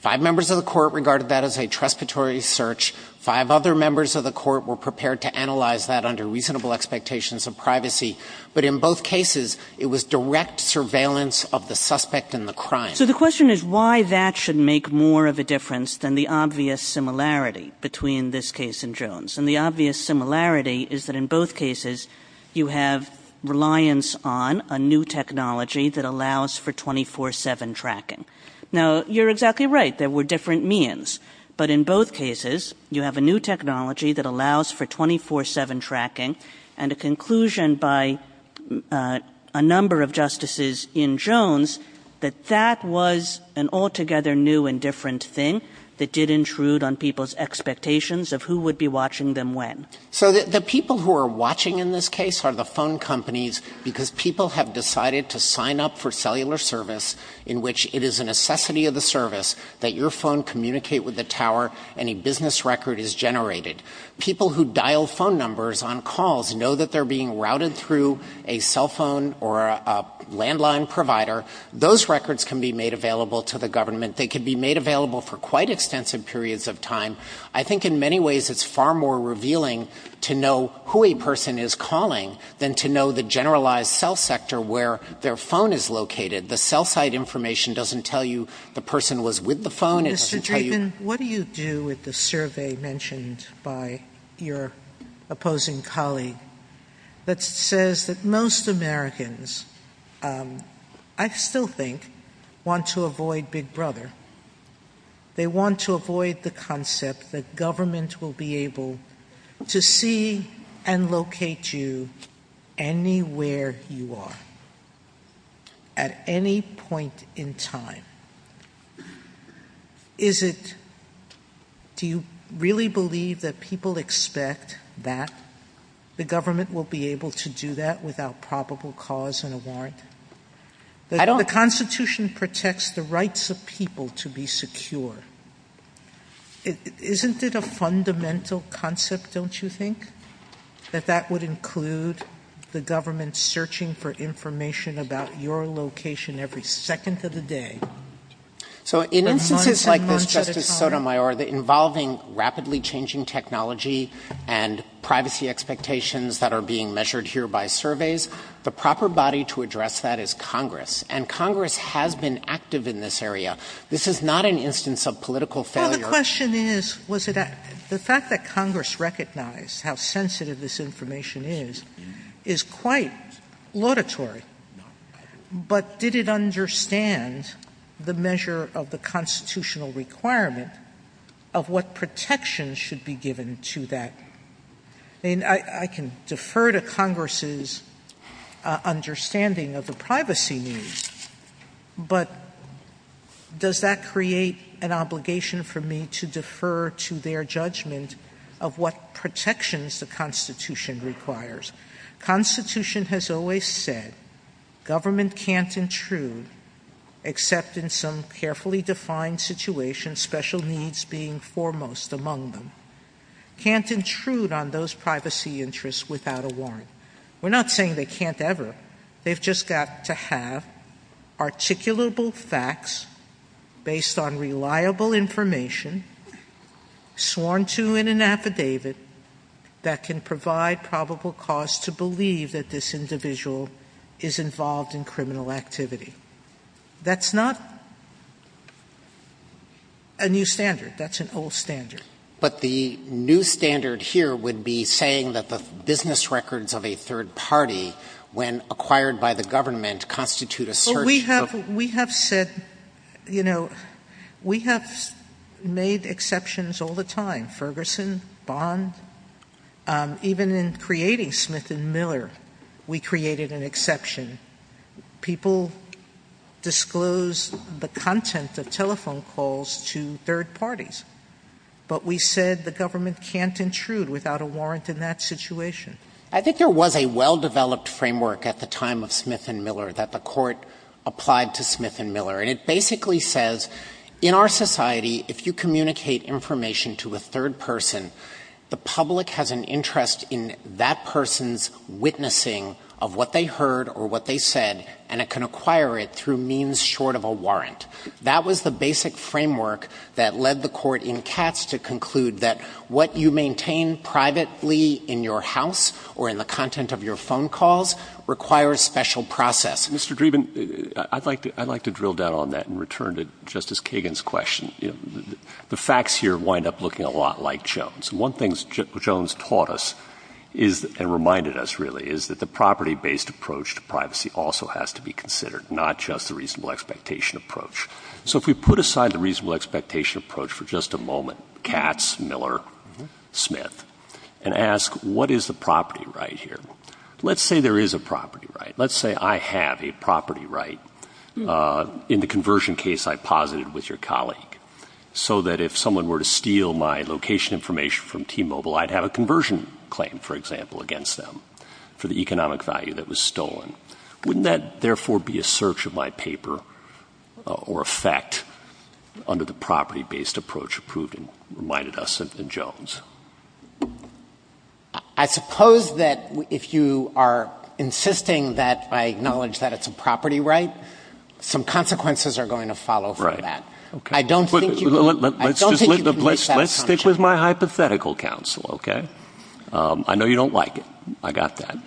Five members of the court regarded that as a trespassory search. Five other members of the court were prepared to analyze that under reasonable expectations of privacy, but in both cases it was direct surveillance of the suspect and the crime. So the question is why that should make more of a difference than the obvious similarity between this case and Jones. And the obvious similarity is that in both cases you have reliance on a new technology that allows for 24-7 tracking. Now, you're exactly right. There were different means, but in both cases you have a new technology that allows for 24-7 tracking and a conclusion by a number of justices in Jones that that was an altogether new and different thing that did intrude on people's expectations of who would be watching them when. So the people who are watching in this case are the phone companies because people have decided to sign up for cellular service in which it is a necessity of the service that your phone communicate with the tower and a business record is generated. People who dial phone numbers on calls know that they're being routed through a cell phone or a landline provider. Those records can be made available to the government. They can be made available for quite extensive periods of time. I think in many ways it's far more revealing to know who a person is calling than to know the generalized cell sector where their phone is located. The cell site information doesn't tell you the person was with the phone. Mr. Dreeben, what do you do with the survey mentioned by your opposing colleague that says that most Americans, I still think, want to avoid Big Brother. They want to avoid the concept that government will be able to see and locate you anywhere you are at any point in time. Do you really believe that people expect that the government will be able to do that without probable cause and a warrant? The Constitution protects the rights of people to be secure. Isn't it a fundamental concept, don't you think, that that would include the government searching for information about your location every second of the day? In instances like this, Justice Sotomayor, involving rapidly changing technology and privacy expectations that are being measured here by surveys, the proper body to address that is Congress. And Congress has been active in this area. This is not an instance of political failure. Well, the question is, was it active? The fact that Congress recognized how sensitive this information is is quite laudatory. But did it understand the measure of the constitutional requirement of what protection should be given to that? And I can defer to Congress's understanding of the privacy needs, but does that create an obligation for me to defer to their judgment of what protections the Constitution requires? The Constitution has always said government can't intrude except in some carefully defined situation, and special needs being foremost among them. Can't intrude on those privacy interests without a warrant. We're not saying they can't ever. They've just got to have articulable facts based on reliable information sworn to in an affidavit that can provide probable cause to believe that this individual is involved in criminal activity. That's not a new standard. That's an old standard. But the new standard here would be saying that the business records of a third party, when acquired by the government, constitute a certain... We have said, you know, we have made exceptions all the time. Ferguson, Bonn. Even in creating Smith & Miller, we created an exception. People disclose the content, the telephone calls, to third parties. But we said the government can't intrude without a warrant in that situation. I think there was a well-developed framework at the time of Smith & Miller that the court applied to Smith & Miller. And it basically says, in our society, if you communicate information to a third person, the public has an interest in that person's witnessing of what they heard or what they said, and it can acquire it through means short of a warrant. That was the basic framework that led the court in Katz to conclude that what you maintain privately in your house or in the content of your phone calls requires special process. Mr. Dreeben, I'd like to drill down on that and return to Justice Kagan's question. The facts here wind up looking a lot like Jones. One thing Jones taught us and reminded us, really, is that privacy also has to be considered, not just the reasonable expectation approach. So if we put aside the reasonable expectation approach for just a moment, Katz, Miller, Smith, and ask, what is the property right here? Let's say there is a property right. Let's say I have a property right. In the conversion case, I posited with your colleague so that if someone were to steal my location information from T-Mobile, I'd have a conversion claim, for example, against them for the economic value of the property. Wouldn't that, therefore, be a search of my paper or effect under the property-based approach reminded us of the Jones? I suppose that if you are insisting that I acknowledge that it's a property right, some consequences are going to follow from that. Let's stick with my hypothetical counsel. I know you don't like it. I got that. I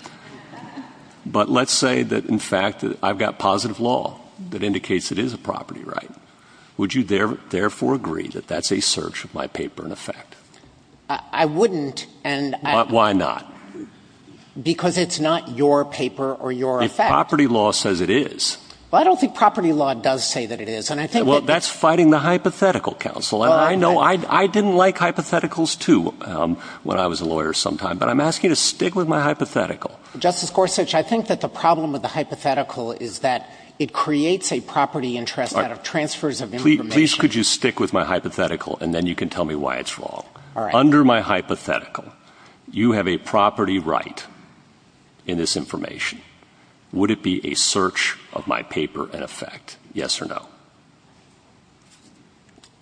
don't like the fact that I've got positive law that indicates it is a property right. Would you, therefore, agree that that's a search of my paper and effect? I wouldn't. Why not? Because it's not your paper or your effect. If property law says it is. I don't think property law does say that it is. That's fighting the hypothetical counsel. I didn't like hypotheticals, too, because my hypothetical is that it creates a property interest out of transfers of information. Please could you stick with my hypothetical and then you can tell me why it's wrong. Under my hypothetical, you have a property right in this information. Would it be a search of my paper and effect? Yes or no?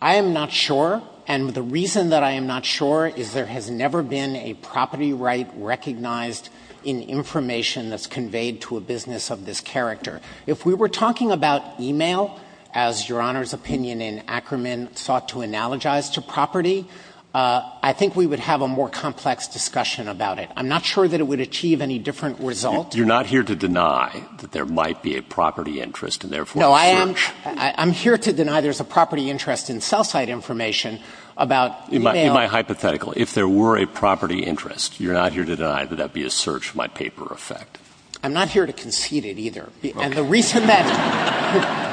I am not sure. And the reason that I am not sure is there has never been a property right recognized in this character. If we were talking about e-mail, as Your Honor's opinion in Ackerman sought to analogize to property, I think we would have a more complex discussion about it. I'm not sure that it would achieve any different result. You're not here to deny that there might be a property interest and therefore a search? No, I'm here to deny there's a property interest in cell site information about e-mail. In my hypothetical, if there were a property interest, would it be a search? in cell site information about e-mail. Okay. And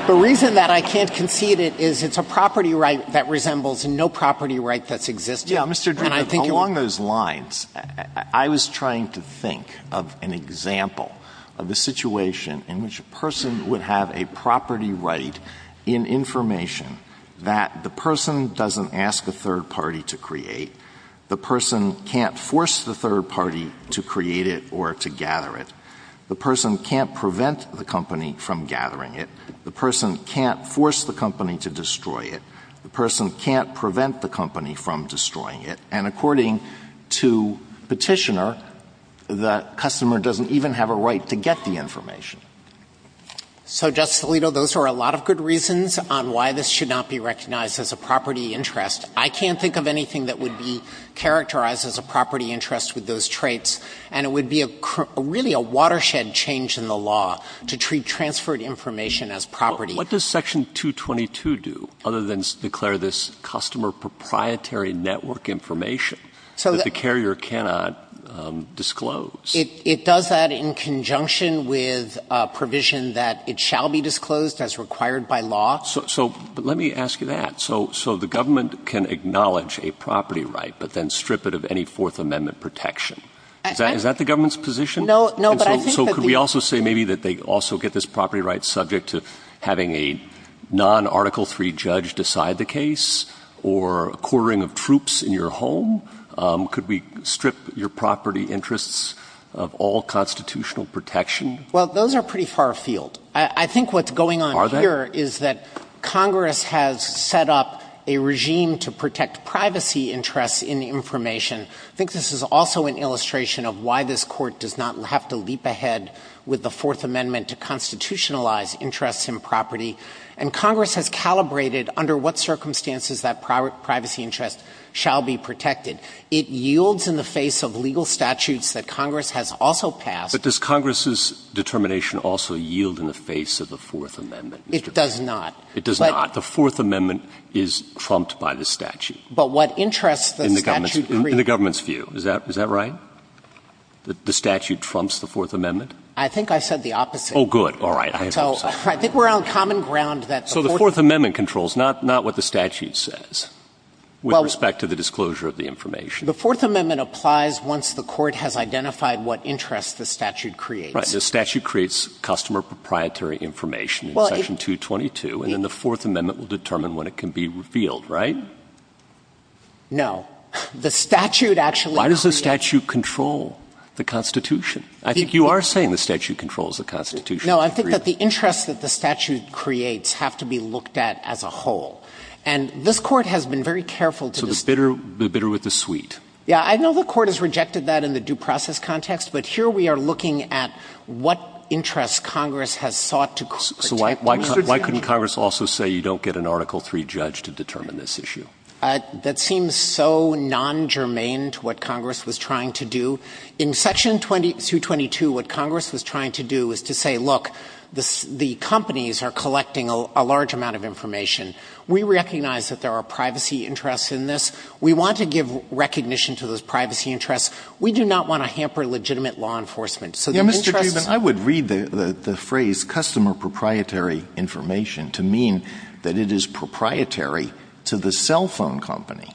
the reason that I can't concede it is it's a property right that resembles no property right that's existing. Yeah, Mr. Dunn, along those lines, I was trying to think of an example of the situation in which a person would have a property right in information that the person doesn't ask a third party to create. The person can't force the third party to create it or to gather it. The person can't prevent the company from gathering it. The person can't force the company to destroy it. The person can't prevent the company from destroying it. And according to Petitioner, the customer doesn't even have a right to get the information. So, Justice Alito, those are a lot of good reasons why it should not be recognized as a property interest. I can't think of anything that would be characterized as a property interest with those traits. And it would be really a watershed change in the law to treat transferred information as property. What does Section 222 do other than declare this customer proprietary network information that the carrier cannot disclose? It does that in conjunction with a provision that it shall be disclosed as required by law. So, let me ask you that. So, the government can acknowledge a property right, but then strip it of any Fourth Amendment protection. Is that the government's position? No. So, could we also say maybe that they also get this property right subject to having a non-Article III judge decide the case or quartering of troops in your home? Could we strip your property interests of all constitutional protection? Well, those are pretty far afield. I think what's going on here is that Congress has set up a regime to protect privacy interests in the information. I think this is also an illustration of why this court does not have to leap ahead with the Fourth Amendment to constitutionalize interests in property. And Congress has calibrated under what circumstances that privacy interests shall be protected. It yields in the face of legal statutes that Congress has also passed. But does Congress's determination also yield in the face of the Fourth Amendment? It does not. It does not. The Fourth Amendment is trumped by the statute. But what interests the statute... In the government's view. Is that right? The statute trumps the Fourth Amendment? I think I said the opposite. Oh, good. All right. So, I think we're on common ground that... So, the Fourth Amendment controls not what the statute says with respect to the disclosure of the information. The Fourth Amendment applies once the court has identified what interests the statute creates. Right. The statute creates customer proprietary information in Section 222. And then the Fourth Amendment will determine when it can be revealed. Right? No. The statute actually... Why does the statute control the Constitution? I think you are saying the statute controls the Constitution. No, I think that the interest that the statute creates have to be looked at as a whole. And this Court has been very careful to... So, the bitter with the sweet. Yeah, I know the Court has rejected that in the due process context. But here we are looking at what interest Congress has sought to... So, why couldn't Congress also say you don't get an Article III judge to determine this issue? That seems so non-germane to what Congress was trying to do. In Section 222, what Congress was trying to do was to say, look, the companies are collecting a large amount of information. We recognize that there are privacy interests in this. We want to give recognition to those privacy interests. We do not want to give recognition to those privacy interests. I would read the phrase customer proprietary information to mean that it is proprietary to the cell phone company.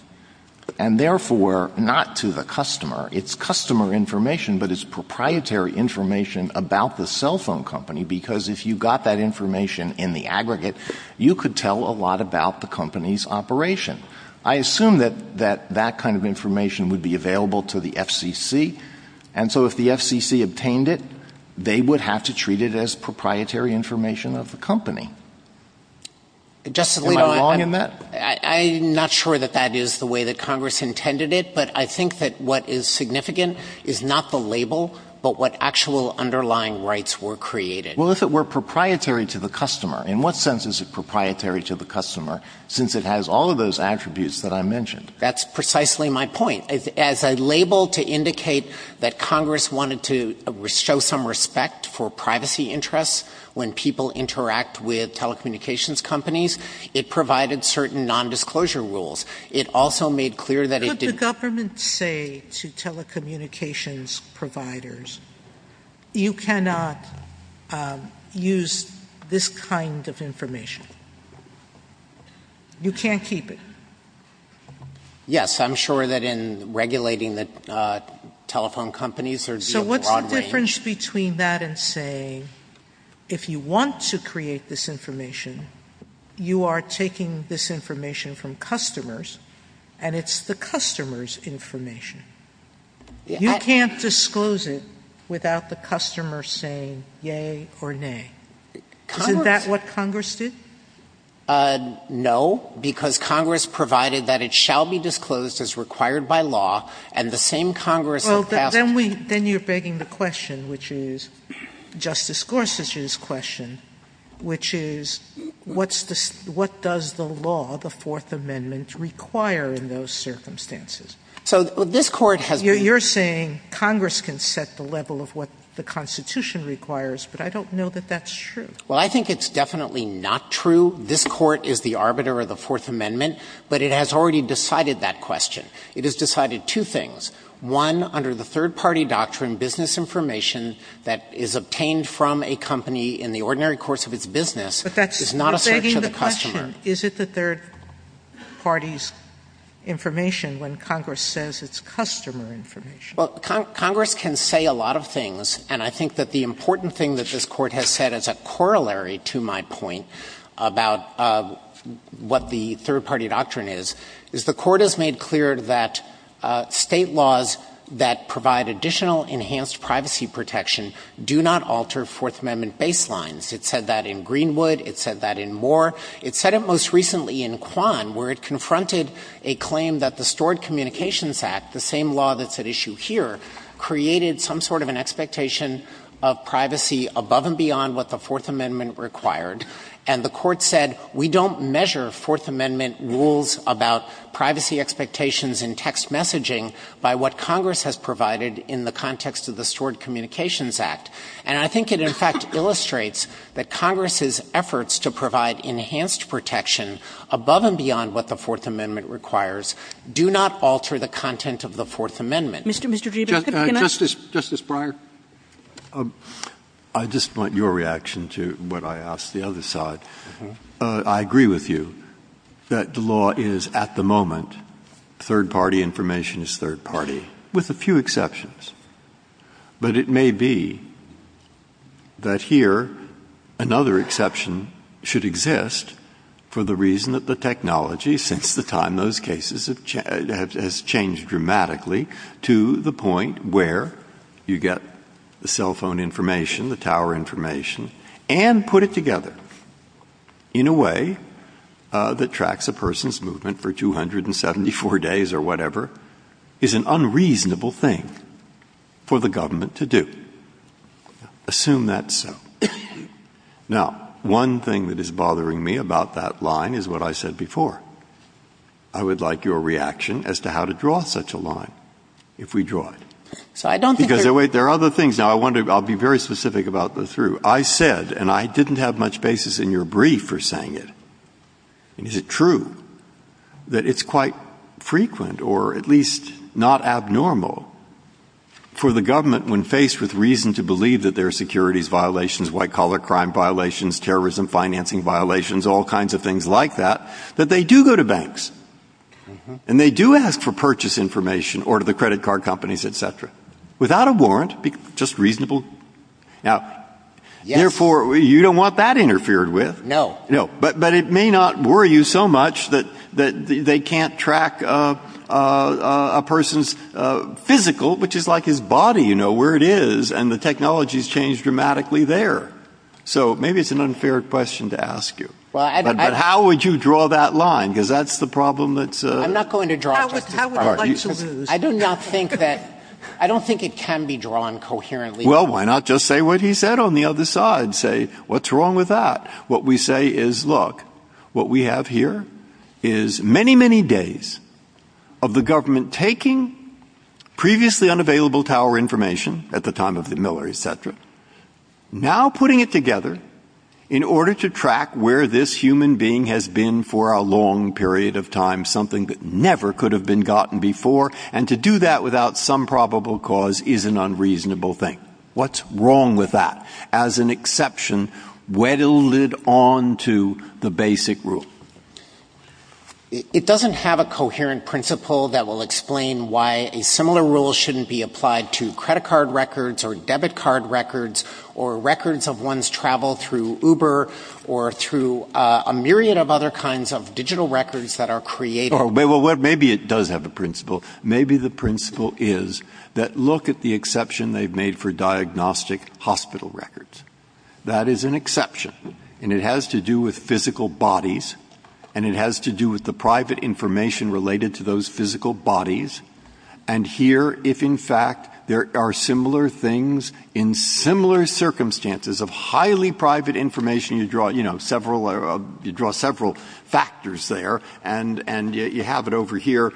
And therefore, not to the customer. It's customer information, but it's proprietary information about the cell phone company. Because if you got that information in the aggregate, you could tell a lot about the company's operation. I assume that that kind of information would be available to the FCC. So if the FCC obtained it, they would have to treat it as proprietary information of the company. Am I wrong in that? I'm not sure that that is the way that Congress intended it, but I think that what is significant is not the label, but what actual underlying rights were created. Well, if it were proprietary to the customer, in what sense is it proprietary to the customer, since it has all of those attributes that I mentioned? Well, the government said to telecommunications providers, you cannot use this kind of information. You can't keep it. Yes, I'm sure that in regulating the telephone companies, there would be a broad range. So what's the difference between that and saying, if you want to create this information, you are taking this information from customers, and it's the customer's information. You can't disclose it without the customer saying yay or nay. Isn't that what Congress did? No, because Congress provided that it shall be disclosed as required by law, and the same Congress... Then you're begging the question, which is what does the law, the Fourth Amendment, require in those circumstances? You're saying Congress can set the level of what the Constitution requires, but I don't know that that's true. Well, I think it's definitely not true. This Court is the arbiter of the Fourth Amendment, but it has already decided that question. It has decided two things. One, under the third-party doctrine, business information that is obtained from a company in the ordinary course of its business is not a search of the customer. Is it the third-party information when Congress says it's customer information? Well, Congress can say a lot of things, and I think that the important thing that this Court has said as a corollary to my point about what the third-party doctrine is, Court has made clear that state laws that provide additional enhanced privacy protection do not alter Fourth Amendment baselines. It said that in the Amendment, there is an expectation of privacy above and beyond what the Fourth Amendment required, and the Court said we don't measure Fourth Amendment rules about privacy expectations in text messaging by what Congress has provided in the context of the communications act. I think that's important. I just want your reaction to what I asked the other side. I agree with you that the law is, at the moment, third-party information is third-party with a few exceptions, but it may be that here another exception should exist for the reason that the technology since the 1990s has changed dramatically to the point where you get the cell phone information, the tower information, and put it together in a way that tracks a person's movement for 274 days or whatever is an unreasonable thing for the government to do. Assume that's so. Now, one thing that is bothering me about that line is what I said before. I would like your reaction as to how to draw such a line if we draw it. I'll be very specific about the through. I said, and I didn't have much basis in your brief for saying it, is it true that it's quite frequent or at least not abnormal for the government when faced with reason to believe that there are security violations, all kinds of things like that, that they do go to banks and they do ask for purchase information without a warrant. Just reasonable. You don't want that interfered with. But it may not worry you so much that they can't track a person's physical, which is like his body, where it is, and the technology has changed dramatically there. Maybe it's an unfair question to ask you. But how would you draw that line? That's the problem. I don't think it can be drawn coherently. Well, why not just say what he said on the other side? What's wrong with that? What we say is, look, what we have here is many, many days of the government taking previously unavailable tower information at the time of Miller, et cetera, now putting it together in order to track where this human being has been for a long period of time, something that never could have been gotten before, and to do that without some probable cause is an unreasonable thing. What's wrong with that, as an exception, weddled onto the basic rule? It doesn't have a coherent principle that will explain why a similar rule shouldn't be applied to credit card records or debit card records or records of one's travel through Uber or through a myriad of other kinds of digital records that are created. Maybe it does have a principle. Maybe the principle is that look at the exception they've made for diagnostic hospital records. That is an exception, and it has to do with physical bodies and it has to do with the private information related to those physical bodies, and here, if in fact there are similar things in similar circumstances of highly private information, you draw several factors there, and you have it over here.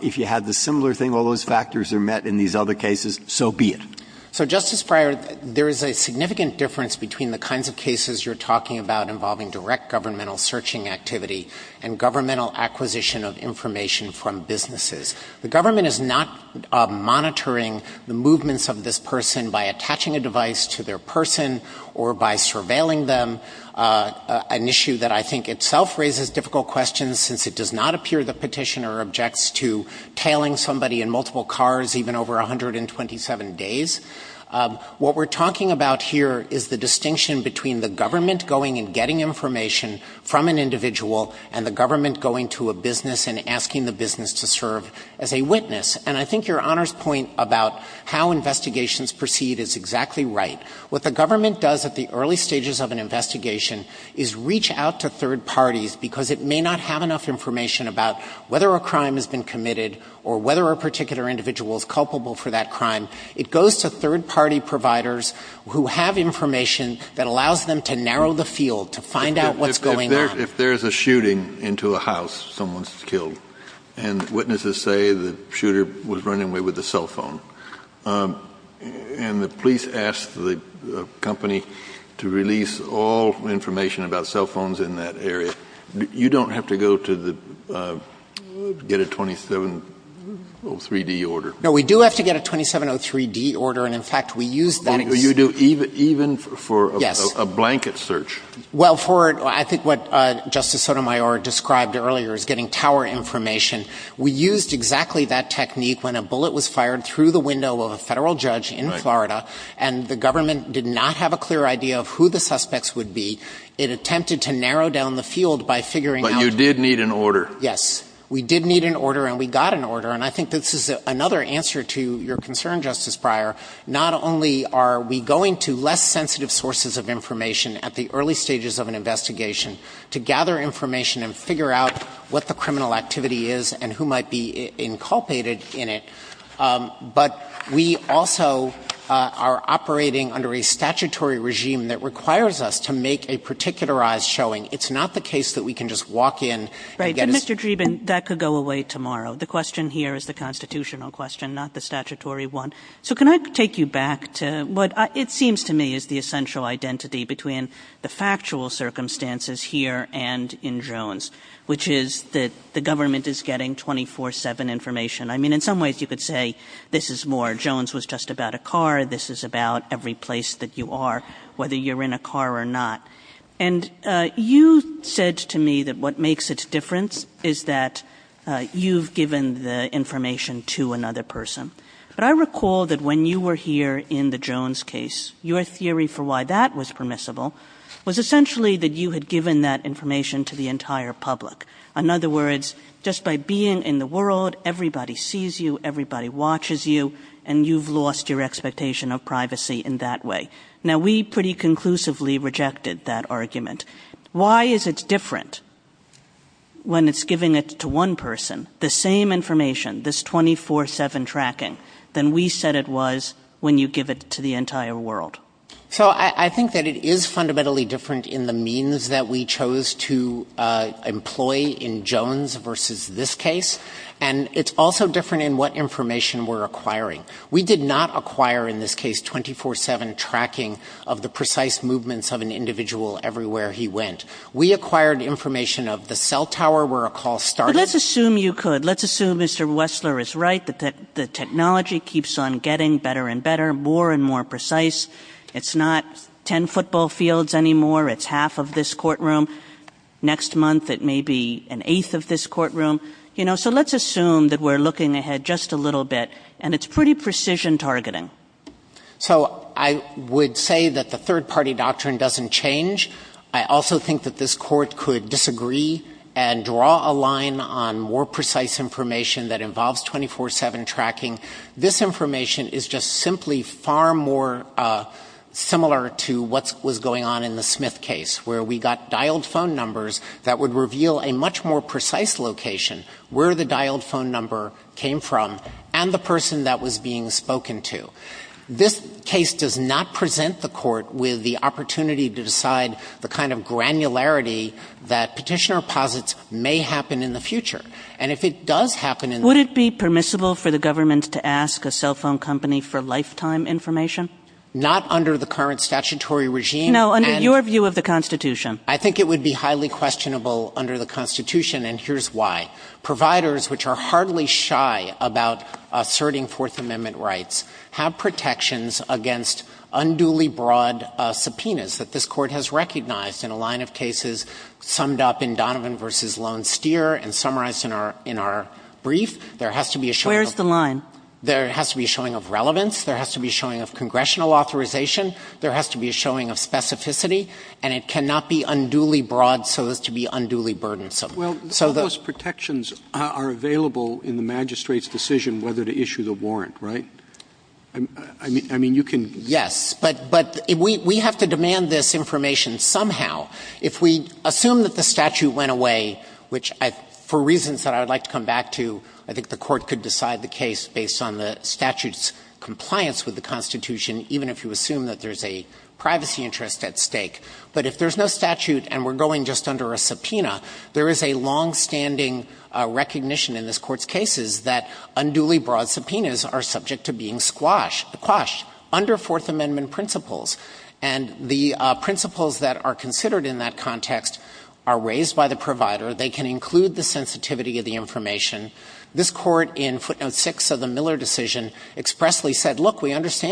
If you have the similar thing, all those factors are met in these other cases, so be it. So, Justice Breyer, there is a significant difference between the kinds of cases you're talking about involving direct governmental searching activity and governmental acquisition of information from businesses. The government is not monitoring the movements of this person by tailing somebody in multiple cars even over 127 days. What we're talking about here is the distinction between the government going and getting information from an individual and the government going to a business and asking the business to serve as a witness, and I think your Honor's point about how investigations proceed is exactly right. What the government does at the early stages of an investigation is reach out to third parties because it may not have enough information about whether a crime has been committed or whether a particular individual is culpable for that crime. It goes to third-party providers who have information that allows them to narrow the field to find out what's going on. If there's a shooting into a house, someone's killed, and witnesses say the shooter was running away with a cell phone, and the police asked the company to release all information about cell phones in that area, you don't have to go to get a 2703D order. We do have to get a 2703D order. Even for a blanket search? I think what Justice Sotomayor described earlier is getting power information. We used exactly that technique when a bullet was fired through the window of a federal judge in Florida, and the government did not have a clear idea of who the suspects would be. It attempted to narrow down the field. But you did need an order? Yes. We did need an order, and we got an order. I think this is another answer to your concern, Justice Breyer. Not only are we going to less sensitive sources of information at the early stages of an investigation to gather information and figure out what the criminal activity is and who might be inculpated in it, but we also are operating under a statutory regime that requires us to make a particularized showing. It's not the case that we can just walk in. Mr. Dreeben, that could go away tomorrow. The question here is the constitutional question, not the statutory one. Can I take you back to the essential identity between the public the public? I recall that when you were here in the Jones case, your theory for why that was permissible was essentially that you had given that information to the entire public. In other words, just by being in the world, everybody sees you, everybody watches you, and you've lost your expectation of privacy in that way. Now, we pretty conclusively rejected that argument. Why is it different when it's giving it to one person, the same information, this 24-7 tracking, than we said it was when you give it to the entire world? I think that it is fundamentally different in the means that we chose to employ in Jones versus this case, and it's also different in what information we're acquiring. We did not acquire in this case 24-7 tracking of the precise movements of an individual everywhere he went. We acquired information of the cell tower where a call was made who was in the cell tower. Let's assume you could. Let's assume Mr. Wessler is right that the technology keeps on getting better and better, more and more precise. It's not 10 football fields anymore. It's half of this courtroom. Next month it may be an eighth of this courtroom. We did not design on more precise information that involves 24-7 tracking. This information is just simply far more similar to what was going on in the Smith case where we got dialed phone numbers that would reveal a much more precise location where the dialed phone number came from and the person that was being spoken to. This case does not present the court with the opportunity to decide the kind of granularity that petitioner posits may happen in the future. And if it does happen... Would it be permissible for the government to ask a cell phone company for lifetime information? Not under the current statutory regime. No, under your view of the Constitution. I think it would be highly questionable under the Constitution and here's why. Providers which are hardly shy about asserting Fourth Amendment rights have protections against unduly broad subpoenas that this court has recognized in a line of cases summed up in Donovan v. Longsteer. There has to be a showing of relevance. There has to be a showing of congressional authorization. There has to be a showing of specificity. cannot be unduly broad so as to be unduly burdensome. Those protections are available in the magistrate's decision whether to issue the subpoena or not. There is a long-standing recognition in this court's cases that unduly broad subpoenas are subject squashed under Fourth Amendment principles. The principles that are considered in that context are raised by the provider that the court has recognized that they can include the sensitivity of the information. This court expressly said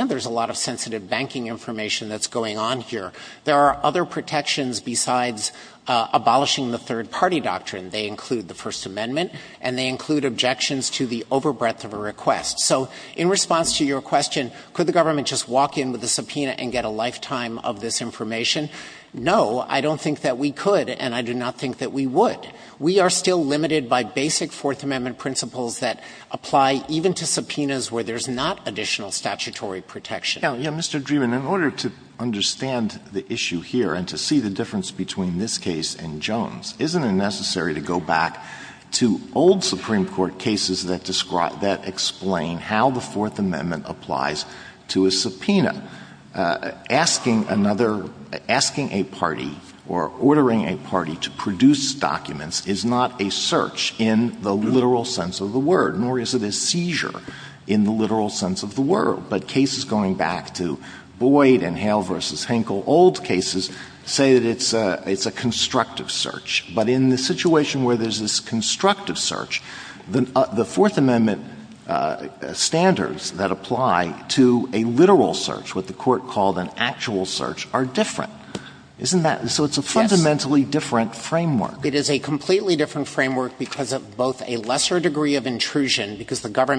there is a lot of sensitive banking information that is going on here. There are other protections besides abolishing the third party protection court has recognized. In response to your question, could the government just walk in with a subpoena and get a lifetime of this information? No. I don't think we could. We are still limited by basic Fourth Amendment principles that apply even to subpoenas where there is not additional protection. In order to see the difference between this case and Jones, isn't it necessary to go back to old Supreme Court cases that explain how the Fourth Amendment applies to a subpoena? No. don't think that asking a party or ordering a party to produce documents is not a search in the literal sense of the word, nor is it a seizure in the literal sense of the word. But cases going back to Boyd and Hale versus Henkel, old cases, say that it's a constructive search. But in the situation where there is a constructive search, the Fourth Amendment standards that apply to a literal search are different. So it's a fundamentally different framework. It is a completely different framework because of a lesser degree of complexity. So, you've got the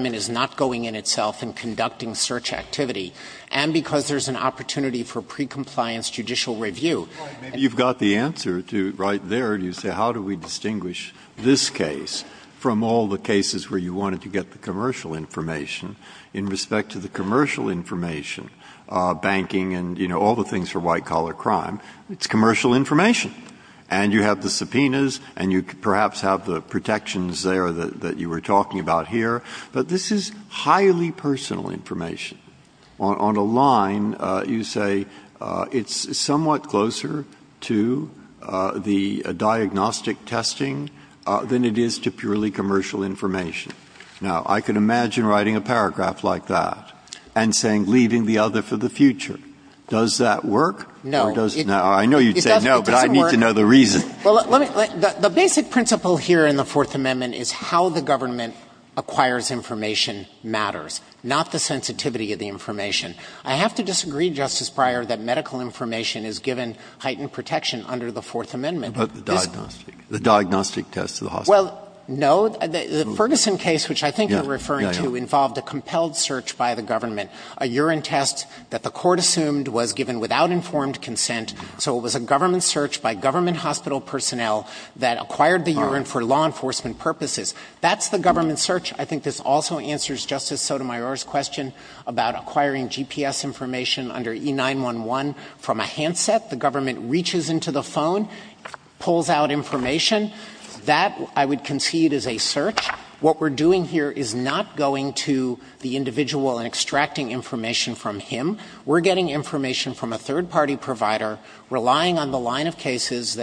answer right there. How do we distinguish this case from all the cases where you want to get the commercial information in respect to the commercial information, banking, and all the things for white collar crime? It's commercial information. And you have the answer right there. Now, I can imagine writing a paragraph like that and saying, leaving the other for the future. Does that work? I know you say no, but I need to know the reason. The basic principle here in the Fourth Amendment is how the government acquires information matters, not the sensitivity of the information. I have to disagree, Justice Breyer, that medical information is given heightened protection under the Fourth Amendment. But the diagnostic test? Well, no. The Ferguson case, which I think you're referring to, involved a compelled search by the government. A urine test that the court assumed was given without informed consent. So it was a government search by government hospital personnel that acquired the urine for law enforcement purposes. That's the government search. I think this also answers Justice Sotomayor's question about acquiring GPS information under E-911 from a handset. The government reaches into the phone, pulls out information. That, I would concede, is a search. What we're doing here is not going to the individual and extracting information from him. We're getting information from a third-party provider relying on the phone. That line of cases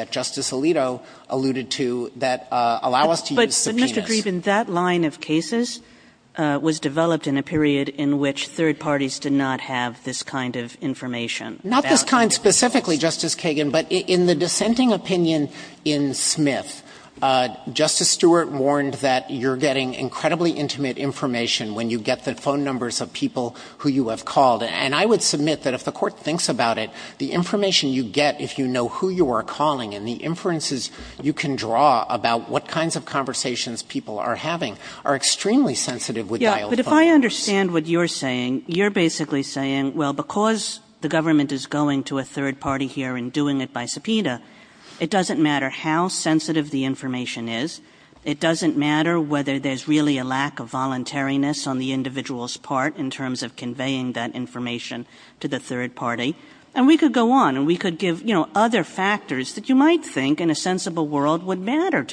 was developed in a period in which third parties did not have this kind of information. In the dissenting opinion in Smith, Justice Stewart warned that you're getting incredibly intimate information when you get the phone numbers of people who you have called. I would submit that if the court thinks about it, the information you get if you know who you are calling and the inferences you can draw about what kinds of conversations people are having are extremely sensitive. If I understand what you're saying, you're saying, well, because the government is going to a third party here and doing it by subpoena, it doesn't matter how sensitive the information is. It doesn't matter whether there's really a lack of voluntariness on the individual's part in terms of conveying that information to the third party. And we don't think that the government is doing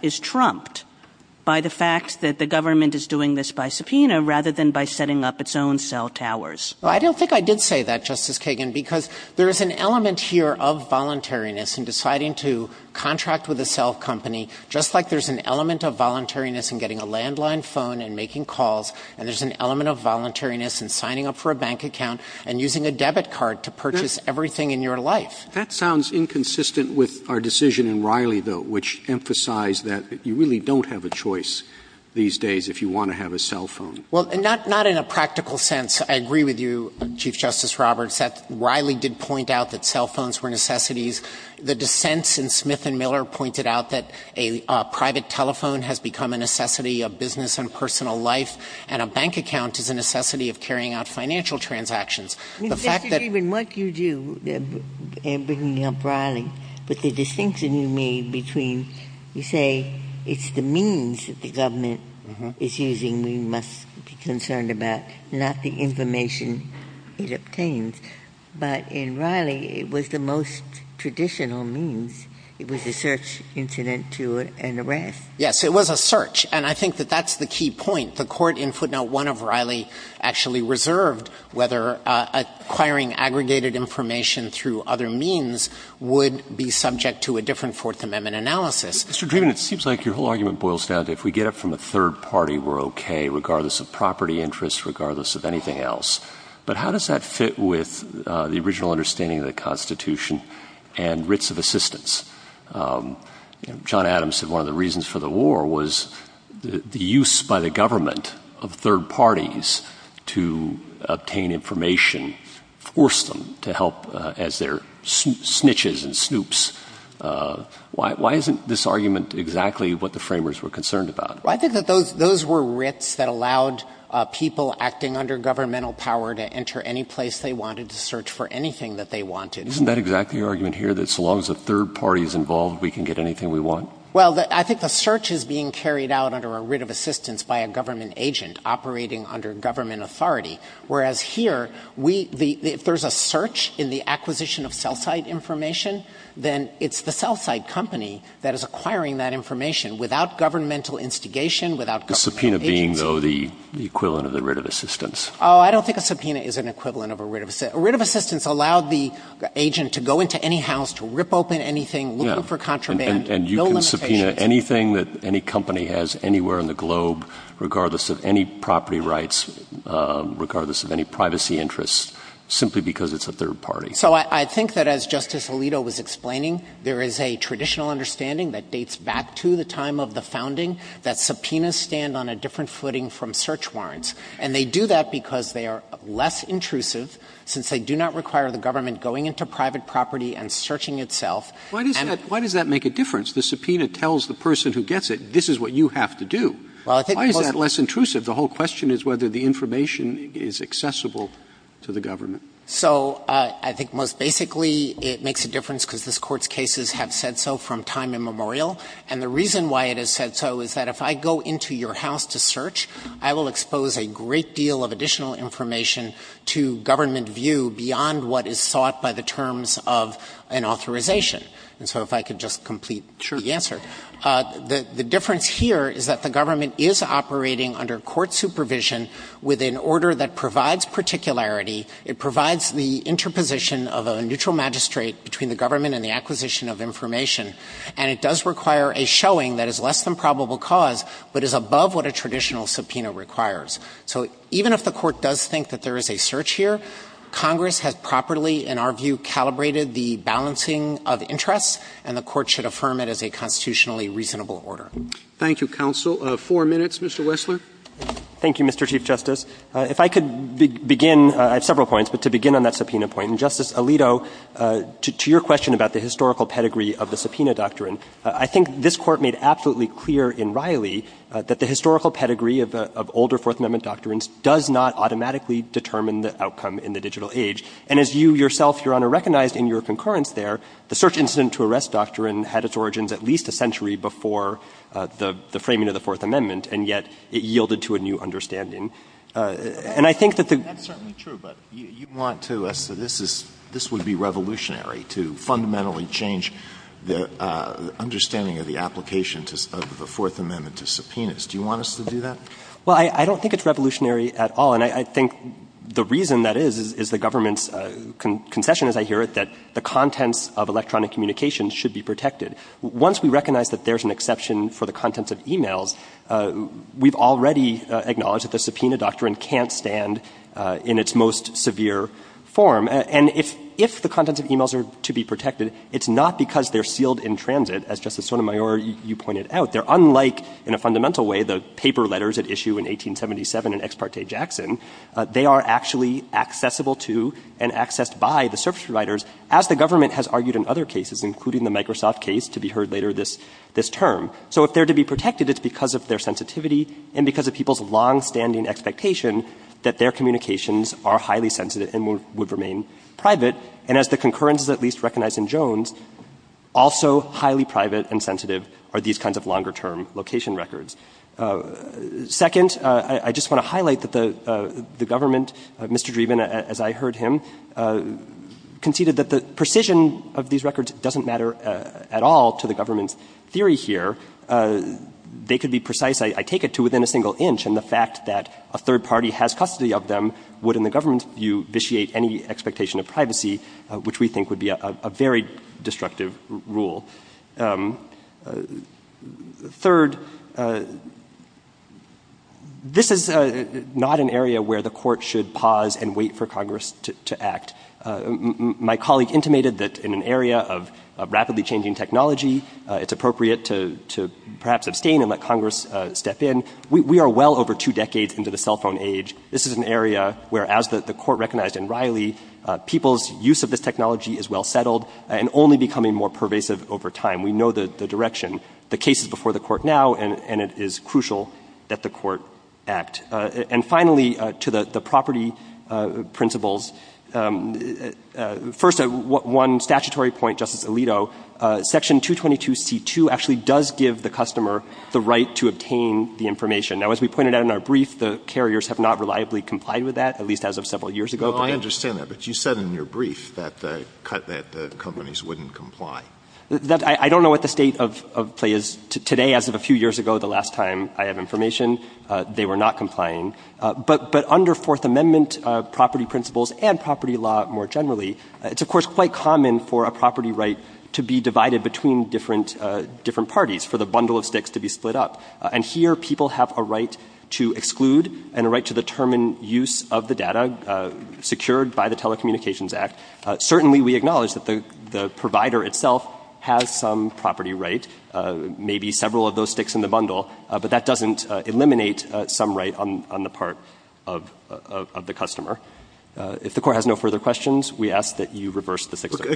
this by subpoena rather than by setting up its own cell towers. I don't think I did say that, Justice Kagan, because there's an element here of voluntariness and deciding to contract with a cell company just like there's an element of voluntariness in getting a landline phone and making sure that be in a cell phone business these days if you want to have a cell phone. I agree with you that Riley did point out that cell phones were necessities. The dissents pointed out that a private telephone has become a necessity of business and personal life. And a bank account is a necessity of carrying out financial transactions. Justice Kagan, what do you do in bringing up Riley? But the distinction you made between you say it's the means that the government is using we must be concerned about, not the information it obtains. But in Riley, it was the most traditional means. It was a search incident and the rest. Yes, it was a search. And I think that's the key point. The court in footnote one of Riley actually reserved whether acquiring aggregated information through other means would be subject to a restriction of the original understanding of the constitution and writs of assistance. John Adams said one of the reasons for the war use by the government of third parties to obtain information, force them to help as their snitches and snoops. Why isn't this argument that the third parties involved can get anything we want? I think the search is being carried out under a writ of assistance by a government agent operating under government authority. Whereas here, if there's a search in the acquisition of cell site information, there's a company that's acquiring that information without governmental instigation. I don't think a subpoena is an equivalent of a writ of assistance. A writ of assistance allows the agent to go into any house to rip open anything. You can subpoena anything that any company has anywhere in the globe regardless of any privacy interests simply because it's a third party. I think there's a traditional understanding that subpoenas stand on a different footing from search warrants. They do that because they're less intrusive since they do not require the government going into private property. Why does that make a difference? The subpoena tells the person who gets it this is what you have to do. Why is that less intrusive? The whole question is whether the information is accessible to the government. I think most basically it makes a difference because this court's cases have said so from time immemorial. If I go into your house to search I will expose a great deal of additional information to government view beyond what is thought by the terms of an authorization. The difference here is that the interposition of a neutral magistrate between the government and the acquisition of information and it does require a showing that is less than probable cause but what a traditional subpoena requires. Congress has properly calibrated the balancing of interest and the court should affirm it as a subpoena. Justice Alito, to your question, I think this court made absolutely clear that the historical pedigree does not automatically determine the outcome in the digital age. The search incident had its origins at least a century before the framing of the Supreme I think it's revolutionary to fundamentally change the understanding of the applications of the Fourth Amendment to subpoenas. Do you want us to do that? I don't think it's revolutionary at all. I think the reason is the government does not recognize that the content of electronic communications should be protected. Once we recognize that there's an exception for the content of e-mails, we've already acknowledged that the subpoena doctrine can't stand in its most severe form. If the content of e-mails protected, they are accessible to and accessed by the service providers as the government has argued in other cases. If they're to be protected, it's because of their sensitivity and people's long-standing expectations that their communications are highly sensitive and would remain private and as the concurrence recognized in Jones, also highly private and sensitive are these kinds of longer term location records. Second, I just want to highlight that the government as I heard him conceded that the precision of these records doesn't matter at all to the government's theory here. They could be precise, I take it to within a single inch and the fact that a third party has custody of them would initiate any expectation of privacy which we think would be a very destructive rule. Third, this is not an area of rapidly changing technology. We are well over two decades into the cell phone age. This is an area where people's use of the technology is well settled and only becoming more pervasive over time. We know the direction. The case is before the court now and it is crucial that the court act. Finally, to the property principles, first, one statutory point, section 222 C2 gives the customer the right to obtain information. The carriers have not reliably complied with that. You said in your brief that companies wouldn't comply. I don't know what the state of play is today. As of a few years ago, the last time I have information, they were not complying. Under fourth amendment principles, it is common for a property right to be divided between different parties. Here, people have a right to exclude and a right to determine use of the property. If the court has no further questions, we ask that you reverse the fixation.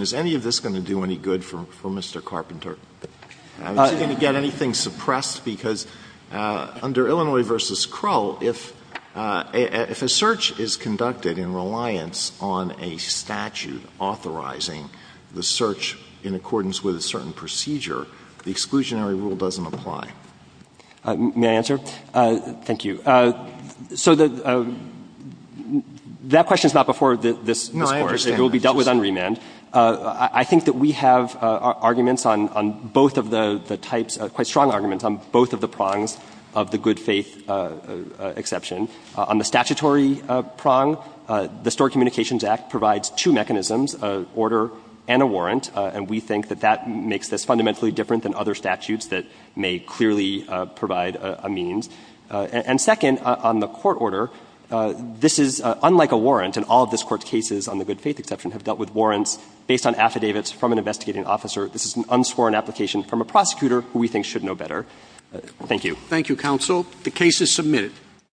Is any of this going to do any good for Mr. Carpenter? Is he going to get anything suppressed? If a search is conducted in reliance on a statute authorizing the search in accordance with a certain procedure, the exclusionary rule doesn't apply. May I answer? Thank you. So that question is not before this court. It will be dealt with on remand. I think we have arguments on both of the prongs of the good faith exception. On the statutory prong, the communications act provides two mechanisms, order and a warrant. We think that makes this fundamentally different than other statutes that may clearly provide a means. Second, on the court order, this is unlike a warrant. All of this court's cases have dealt with warrants based on affidavits from an affidavit and the court order as well. We have the opportunity in our case to look at the court order and see if it